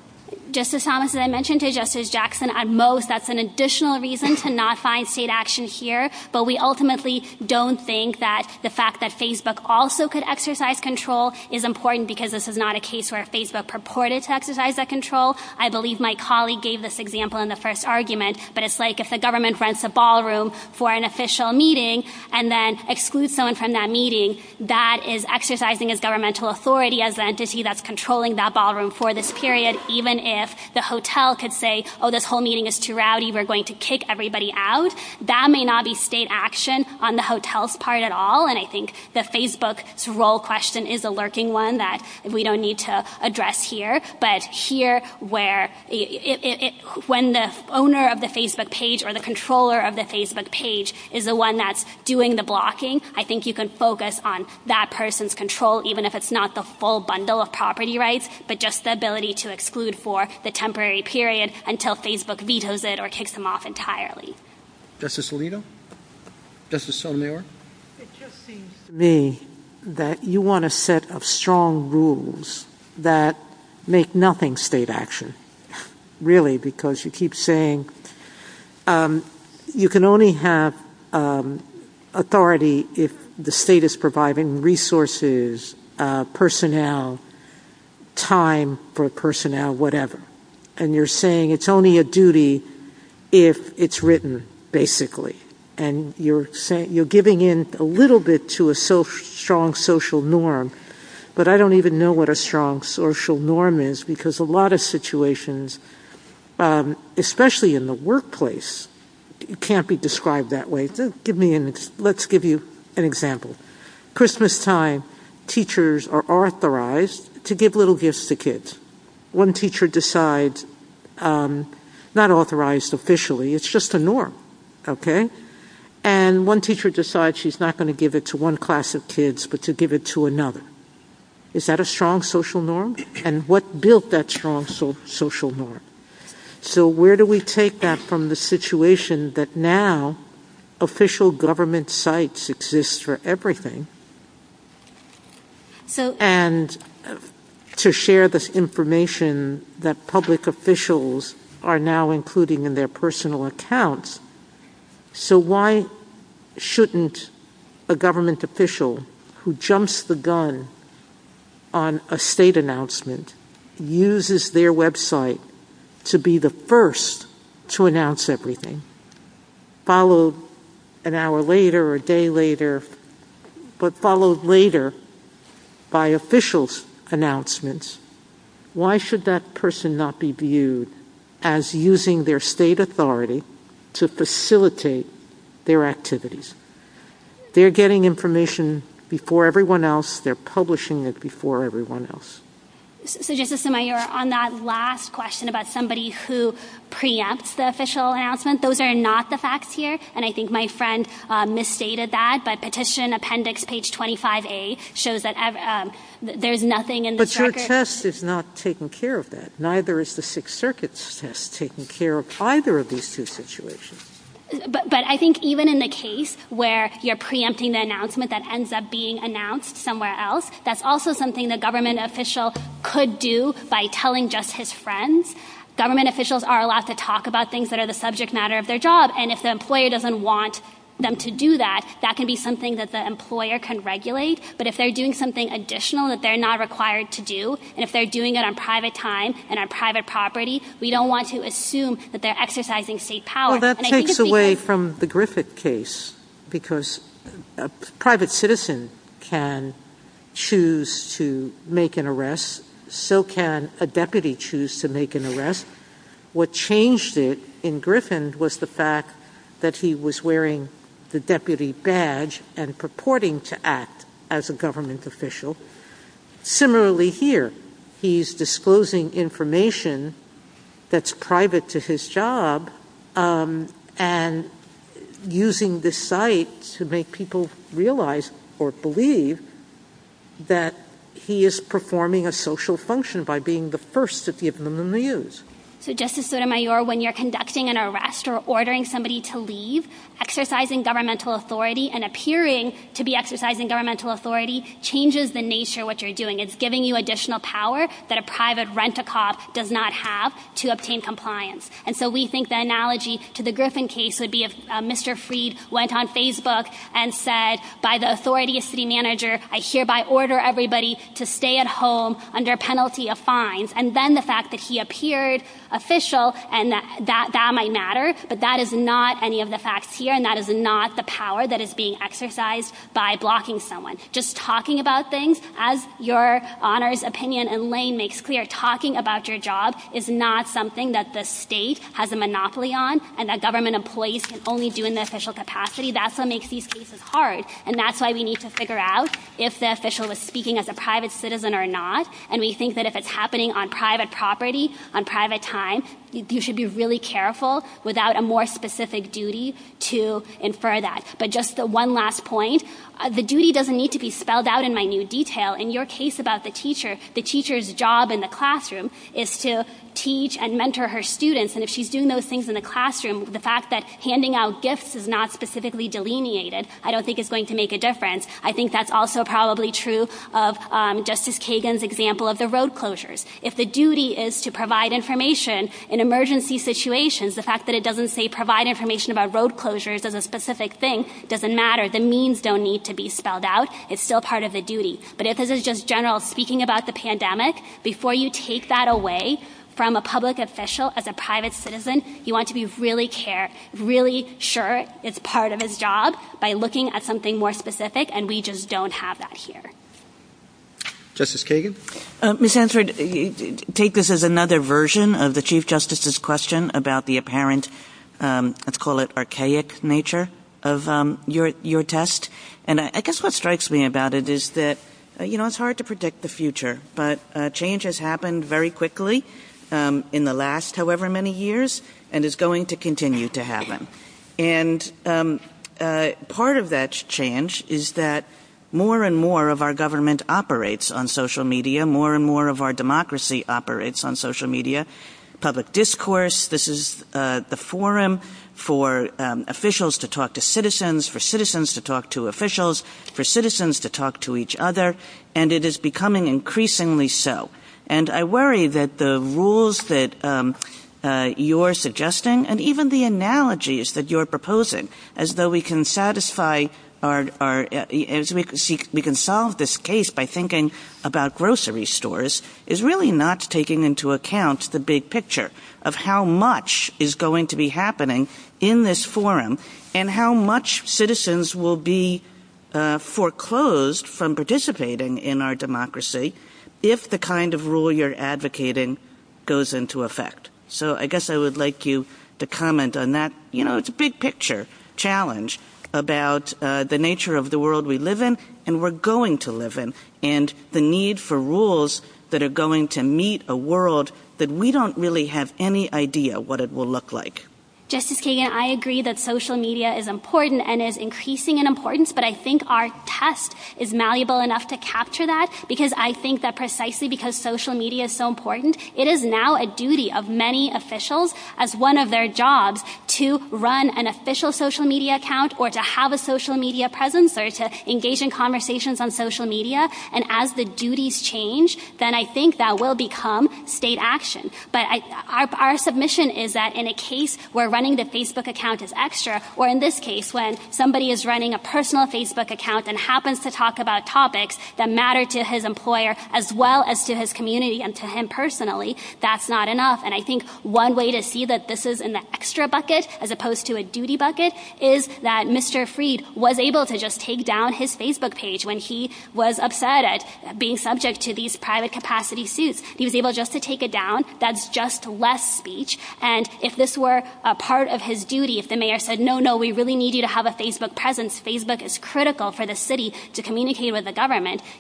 Justice Thomas, as I mentioned to Justice Jackson, at most, that's an additional reason to not find state action here, but we ultimately don't think that the fact that Facebook also could exercise control is important because this is not a case where Facebook purported to exercise that control. I believe my colleague gave this example in the first argument, but it's like if the government rents a ballroom for an official meeting and then excludes someone from that meeting, that is exercising its governmental authority as an entity that's controlling that ballroom for this period even if the hotel could say, oh, this whole meeting is too rowdy, we're going to kick everybody out. That may not be state action on the hotel's part at all and I think that Facebook's role question is a lurking one that we don't need to address here, but here, when the owner of the Facebook page or the controller of the Facebook page is the one that's doing the blocking, I think you can focus on that person's control even if it's not the full bundle of property rights, but just the ability to exclude for the temporary period until Facebook vetoes it or kicks them off entirely. Justice Alito? Justice Sonner? It just seems to me that you want a set of strong rules you can only have authority if the state is providing resources to the people who are doing the blocking and the people who are doing the blocking and the people who are providing personnel, time for personnel, whatever, and you're saying it's only a duty if it's written, basically, and you're giving in a little bit to a strong social norm, but I don't even know what a strong social norm is because a lot of situations, especially in the workplace, can't be described that way. Let's give you an example. Christmastime, teachers are not allowed or teachers are authorized to give little gifts to kids. One teacher decides, not authorized officially, it's just a norm, okay, and one teacher decides she's not going to give it to one class of kids but to give it to another. Is that a strong social norm? And what built that strong social norm? So where do we take that from? We take that from the situation that now official government sites exist for everything and to share this information that public officials are now including in their personal accounts. So why shouldn't a government official who jumps the gun on a state announcement uses their website to be the first to announce everything, followed an hour later or a day later, but followed later by official announcements, why should that person not be viewed as using their state authority to facilitate their activities? They're getting information before everyone else, they're publishing it before everyone else. On that last question about somebody who preempts the official announcement, those are not the facts here and I think my friend misstated that. But petition appendix page 25A shows that there's nothing in the record. But your test is not taking care of that. Neither is the Sixth Circuit's test taking care of either of these two situations. But I think even in the case where you're preempting the announcement that ends up being announced somewhere else, that's also something the government official could do by telling just his friends. Government officials are allowed to talk about things that they don't want to We don't want to assume that they're exercising state power. That takes away from the Griffith case because a private citizen can choose to make an arrest, so can a deputy choose to make an arrest. What changed it in Griffith was the fact that he was wearing the deputy badge and purporting to act as a government official. Similarly here, he's disclosing information that's private to his job and using this site to make people realize or believe that he is performing a social function by being the first to give them the news. Justice Sotomayor, when you're conducting an arrest or an arrest, the fact that you're exercising governmental authority and appearing to be exercising governmental authority changes the nature of what you're doing. It's giving you additional power that a private rent-a-cop does not have to obtain compliance. So we think the analogy to the Griffith case would be if Mr. Freed went on Facebook and said I'm hereby ordered everybody to stay at home under penalty of fines and then the fact that he appeared official and that might matter but that is not any of the facts here and that is not the power that is being exercised by blocking someone. Just talking about things as your Honor's opinion makes clear, talking about your job is not something that the state has a monopoly on and that government employees can only do in the official capacity. That's what makes these cases hard. That's why we need to figure out if the official is speaking as a private citizen or not. If it's happening on private property and private time you should be careful without a more specific duty to infer that. Just one last point, the duty doesn't need to be spelled out in detail. The teacher's job in the classroom is to teach and mentor her students and if she is doing those things in the classroom I don't think it's going to make a difference. I think that's also probably true. If the duty is to provide information in emergency situations the fact that it doesn't say provide information doesn't matter. It's still part of the duty. If it's speaking about the pandemic before you take that away you want to be really sure it's part of his job by looking at something more specific and we don't have that here. Thank you, everyone. to pass it over to Justice Kagan. I take this as another version of the question about the apparent archaic nature of your test. I guess what strikes me about it is it's hard to predict the future. Change has happened very quickly in the last however many years and is going to continue to happen. And part of that change is that more and more of our government operates on social media, more and more of our democracy operates on social media, public discourse, this is the forum for officials to talk to citizens, for citizens to talk to officials, for citizens to talk to each other, and it is becoming increasingly so. And I worry that the rules that you're suggesting and even the analogies that you're proposing as though we can satisfy as we can solve this case by thinking about grocery stores is really not taking into account the big picture of how much is going to be happening in this forum and how much citizens will be foreclosed from participating in our democracy if the kind of rule you're advocating goes into effect. So I guess I would like you to comment on that. You know, it's a big picture challenge about the nature of the world we live in and we're going to live in. And the need for rules that are going to meet a world that we don't really have any idea what it will look like. Justice Kagan, I agree that social media is important and is increasing in importance, but I think our test is malleable enough to capture that because I think that when increasing in importance, and as the duties change, then I think that will become state action. Our submission is that in a case where running the Facebook account is extra, or in this case when somebody is running a personal Facebook account and he happens to talk about topics that matter to his employer as well as to his community and to him personally, that's not enough. And I think one way to see that this is an extra bucket as opposed to a duty bucket is that Mr. Freed was able to take down his Facebook page when he was upset at being subject to these private capacity suits. He was able to take it down. That's just less speech. If the mayor said no, we need you to have a Facebook presence,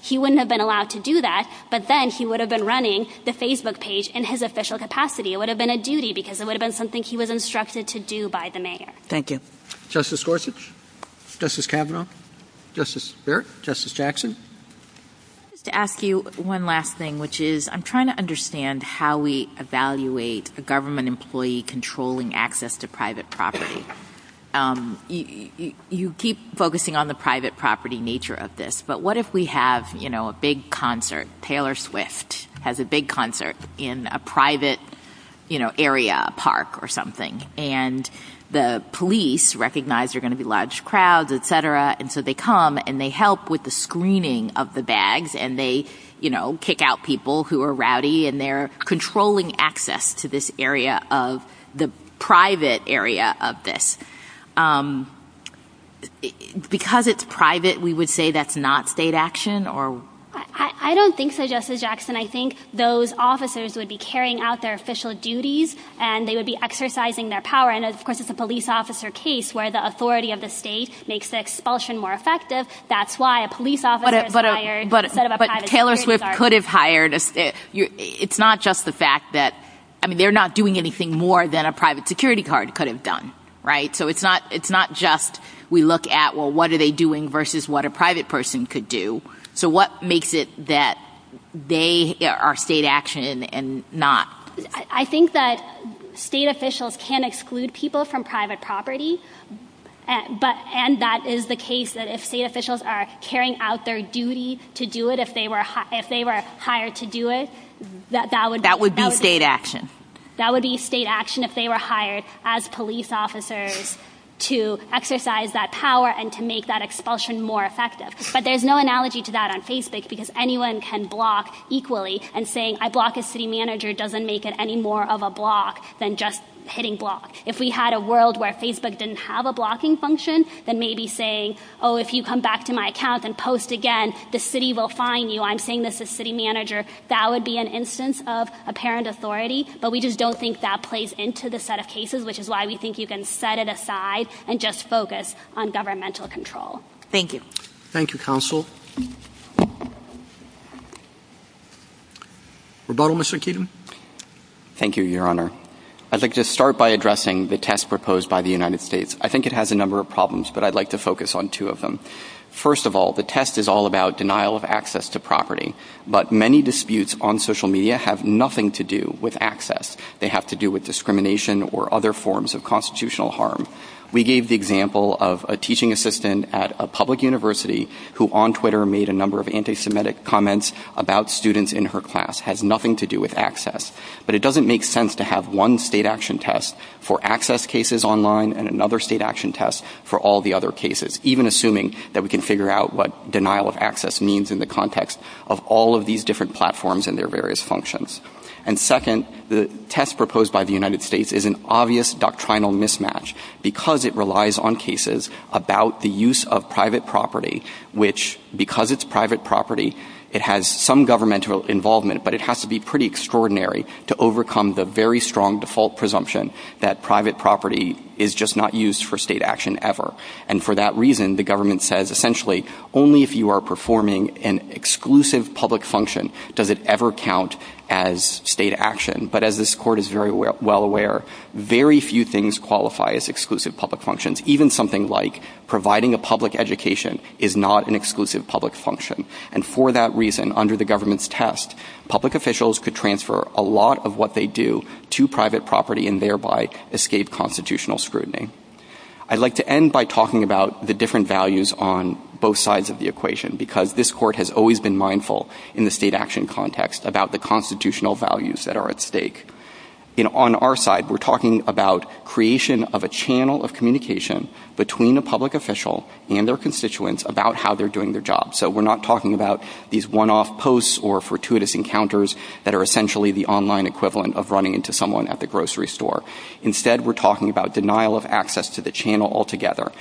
he wouldn't have been allowed to do that, but then he would have been running the Facebook page in his official capacity. It would have been a duty because it would have been something he was instructed to do by the mayor. I'm trying to understand how we evaluate a government employee controlling access to private property. You keep focusing on the private property nature of this, but what if we have a public concert in a private area, a park or something, and the police recognize there are going to be large crowds, so they come and they help with the screening of the bags and they kick out people who are rowdy and they're controlling access to this area of the private area of this. Because it's private, we would say that's not state action? I don't think so, Justice Jackson. I think those officers would be carrying out their official duties and exercising their power. It's a police officer case where the authority of the state makes the expulsion more effective. But Taylor could have done that. It's not just we look at what are they doing versus what a private person could do. So what makes it that they are state action and not? I think that state officials can exclude people from private property, and that is the case that if state officials are carrying out their duty to do it, if they were hired to do it, that would be state action if they were hired as police officers to exercise that power and to make that expulsion more effective. But there's no analogy to that on Facebook because anyone can block equally. If we had a world where Facebook didn't have a blocking function, that would be an instance of apparent authority, but we don't think that plays into the set of cases, which is why we think you can set it aside and just focus on governmental control. Thank you. Thank you, counsel. Thank you, your Honor. I would like to start by addressing the test proposed by the United States. I think it has a number of problems, but I'd like to focus on two of them. First of all, the test is all about denial of access to property, but many disputes on social media have nothing to do with access. They have to do with discrimination or other forms of constitutional harm. We gave the example of a teaching assistant at a public university who made a number of anti-Semitic comments about students in her class. It has nothing to do with access, but it doesn't make sense to have one state action test for private property. The United States is an obvious doctrinal mismatch because it relies on cases about the use of private property, which, because it's private property, it has some government involvement, but it has to be extraordinary to overcome the exclusion property. The United States court is well aware that very few things qualify as exclusive public functions. For that reason, under the government's test, public officials could transfer a lot of what they do to private property. I would like to point out that on our side, we're talking about creation of a channel of communication between a public official and their constituents about how they're doing their job. We're not talking about one-off posts or fortuitous encounters. Instead, we're talking about denial of access to the channel altogether.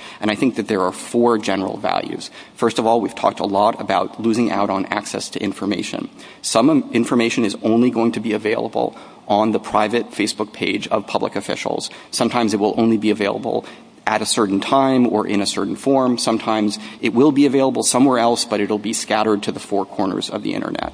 There are four general values. First of all, we've talked a lot about losing out on access to information. Some information is only going to be available on the private Facebook page of public officials. Sometimes it will only be available at a certain time or in a certain form. Sometimes it will be available somewhere else but it will be scattered to the four corners of the Internet.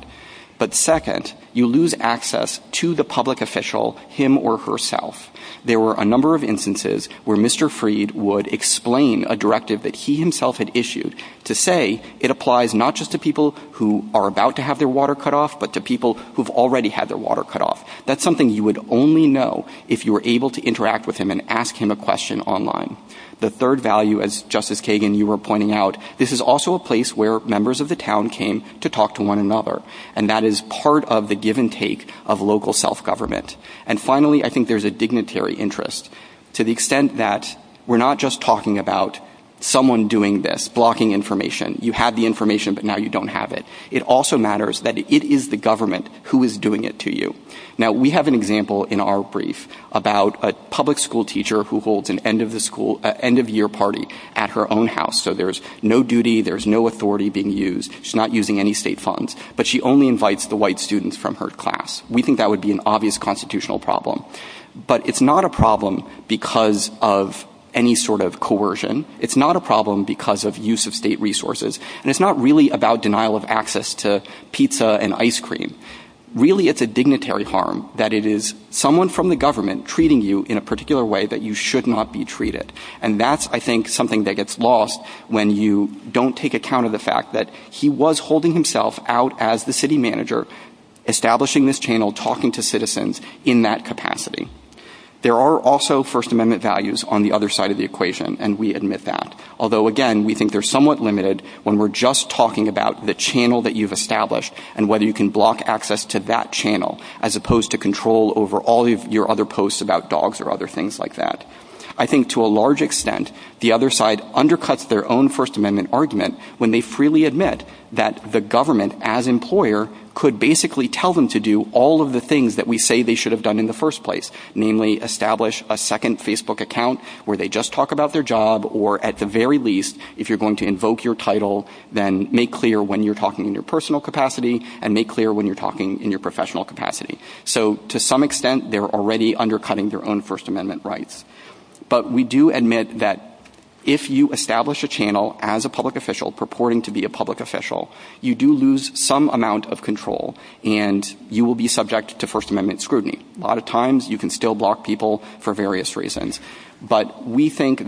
Second, you lose access to the public official him or herself. There were a number of instances where Mr. Freed would explain a directive that he himself had issued to say it applies not just to people who are about to have their water cut off but also to people who have already had their water cut off. That is something you would only know if you were able to interact with him and ask him a question online. Third, this is also a place where members of the town came to talk to one another. That is part of the The public school system has a dignitary interest. We are not just talking about someone doing this, blocking information. It also matters that it is the government who is doing it to you. We have an example in our brief about a public school. We think that would be an obvious constitutional problem. It is not a problem because of any sort of coercion. It is not a problem because of use of state resources. It is not about denial of access to pizza and ice cream. It is a dignitary harm. It is someone from the government treating you in a particular way that you should not be treated. That is something that gets lost when you don't take account of the fact that he was holding himself out as the city manager establishing this channel talking to citizens in that capacity. There are also first amendment values on the other side of the equation. We think they are somewhat limited when we are the channel that you have established. I think to a large extent the other side undercuts their own first amendment argument when they establish a second Facebook account. To some extent they are already undercutting their own first amendment rights. We do admit that if you establish a channel as a public official purporting to be a public official, you lose some amount of control and you will be subject to first amendment scrutiny. A lot of times you can still block people for various reasons but we think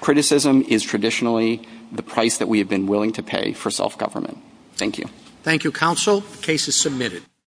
criticism is traditionally the price we have been willing to pay for self government. Thank you. Thank you counsel. The case is submitted.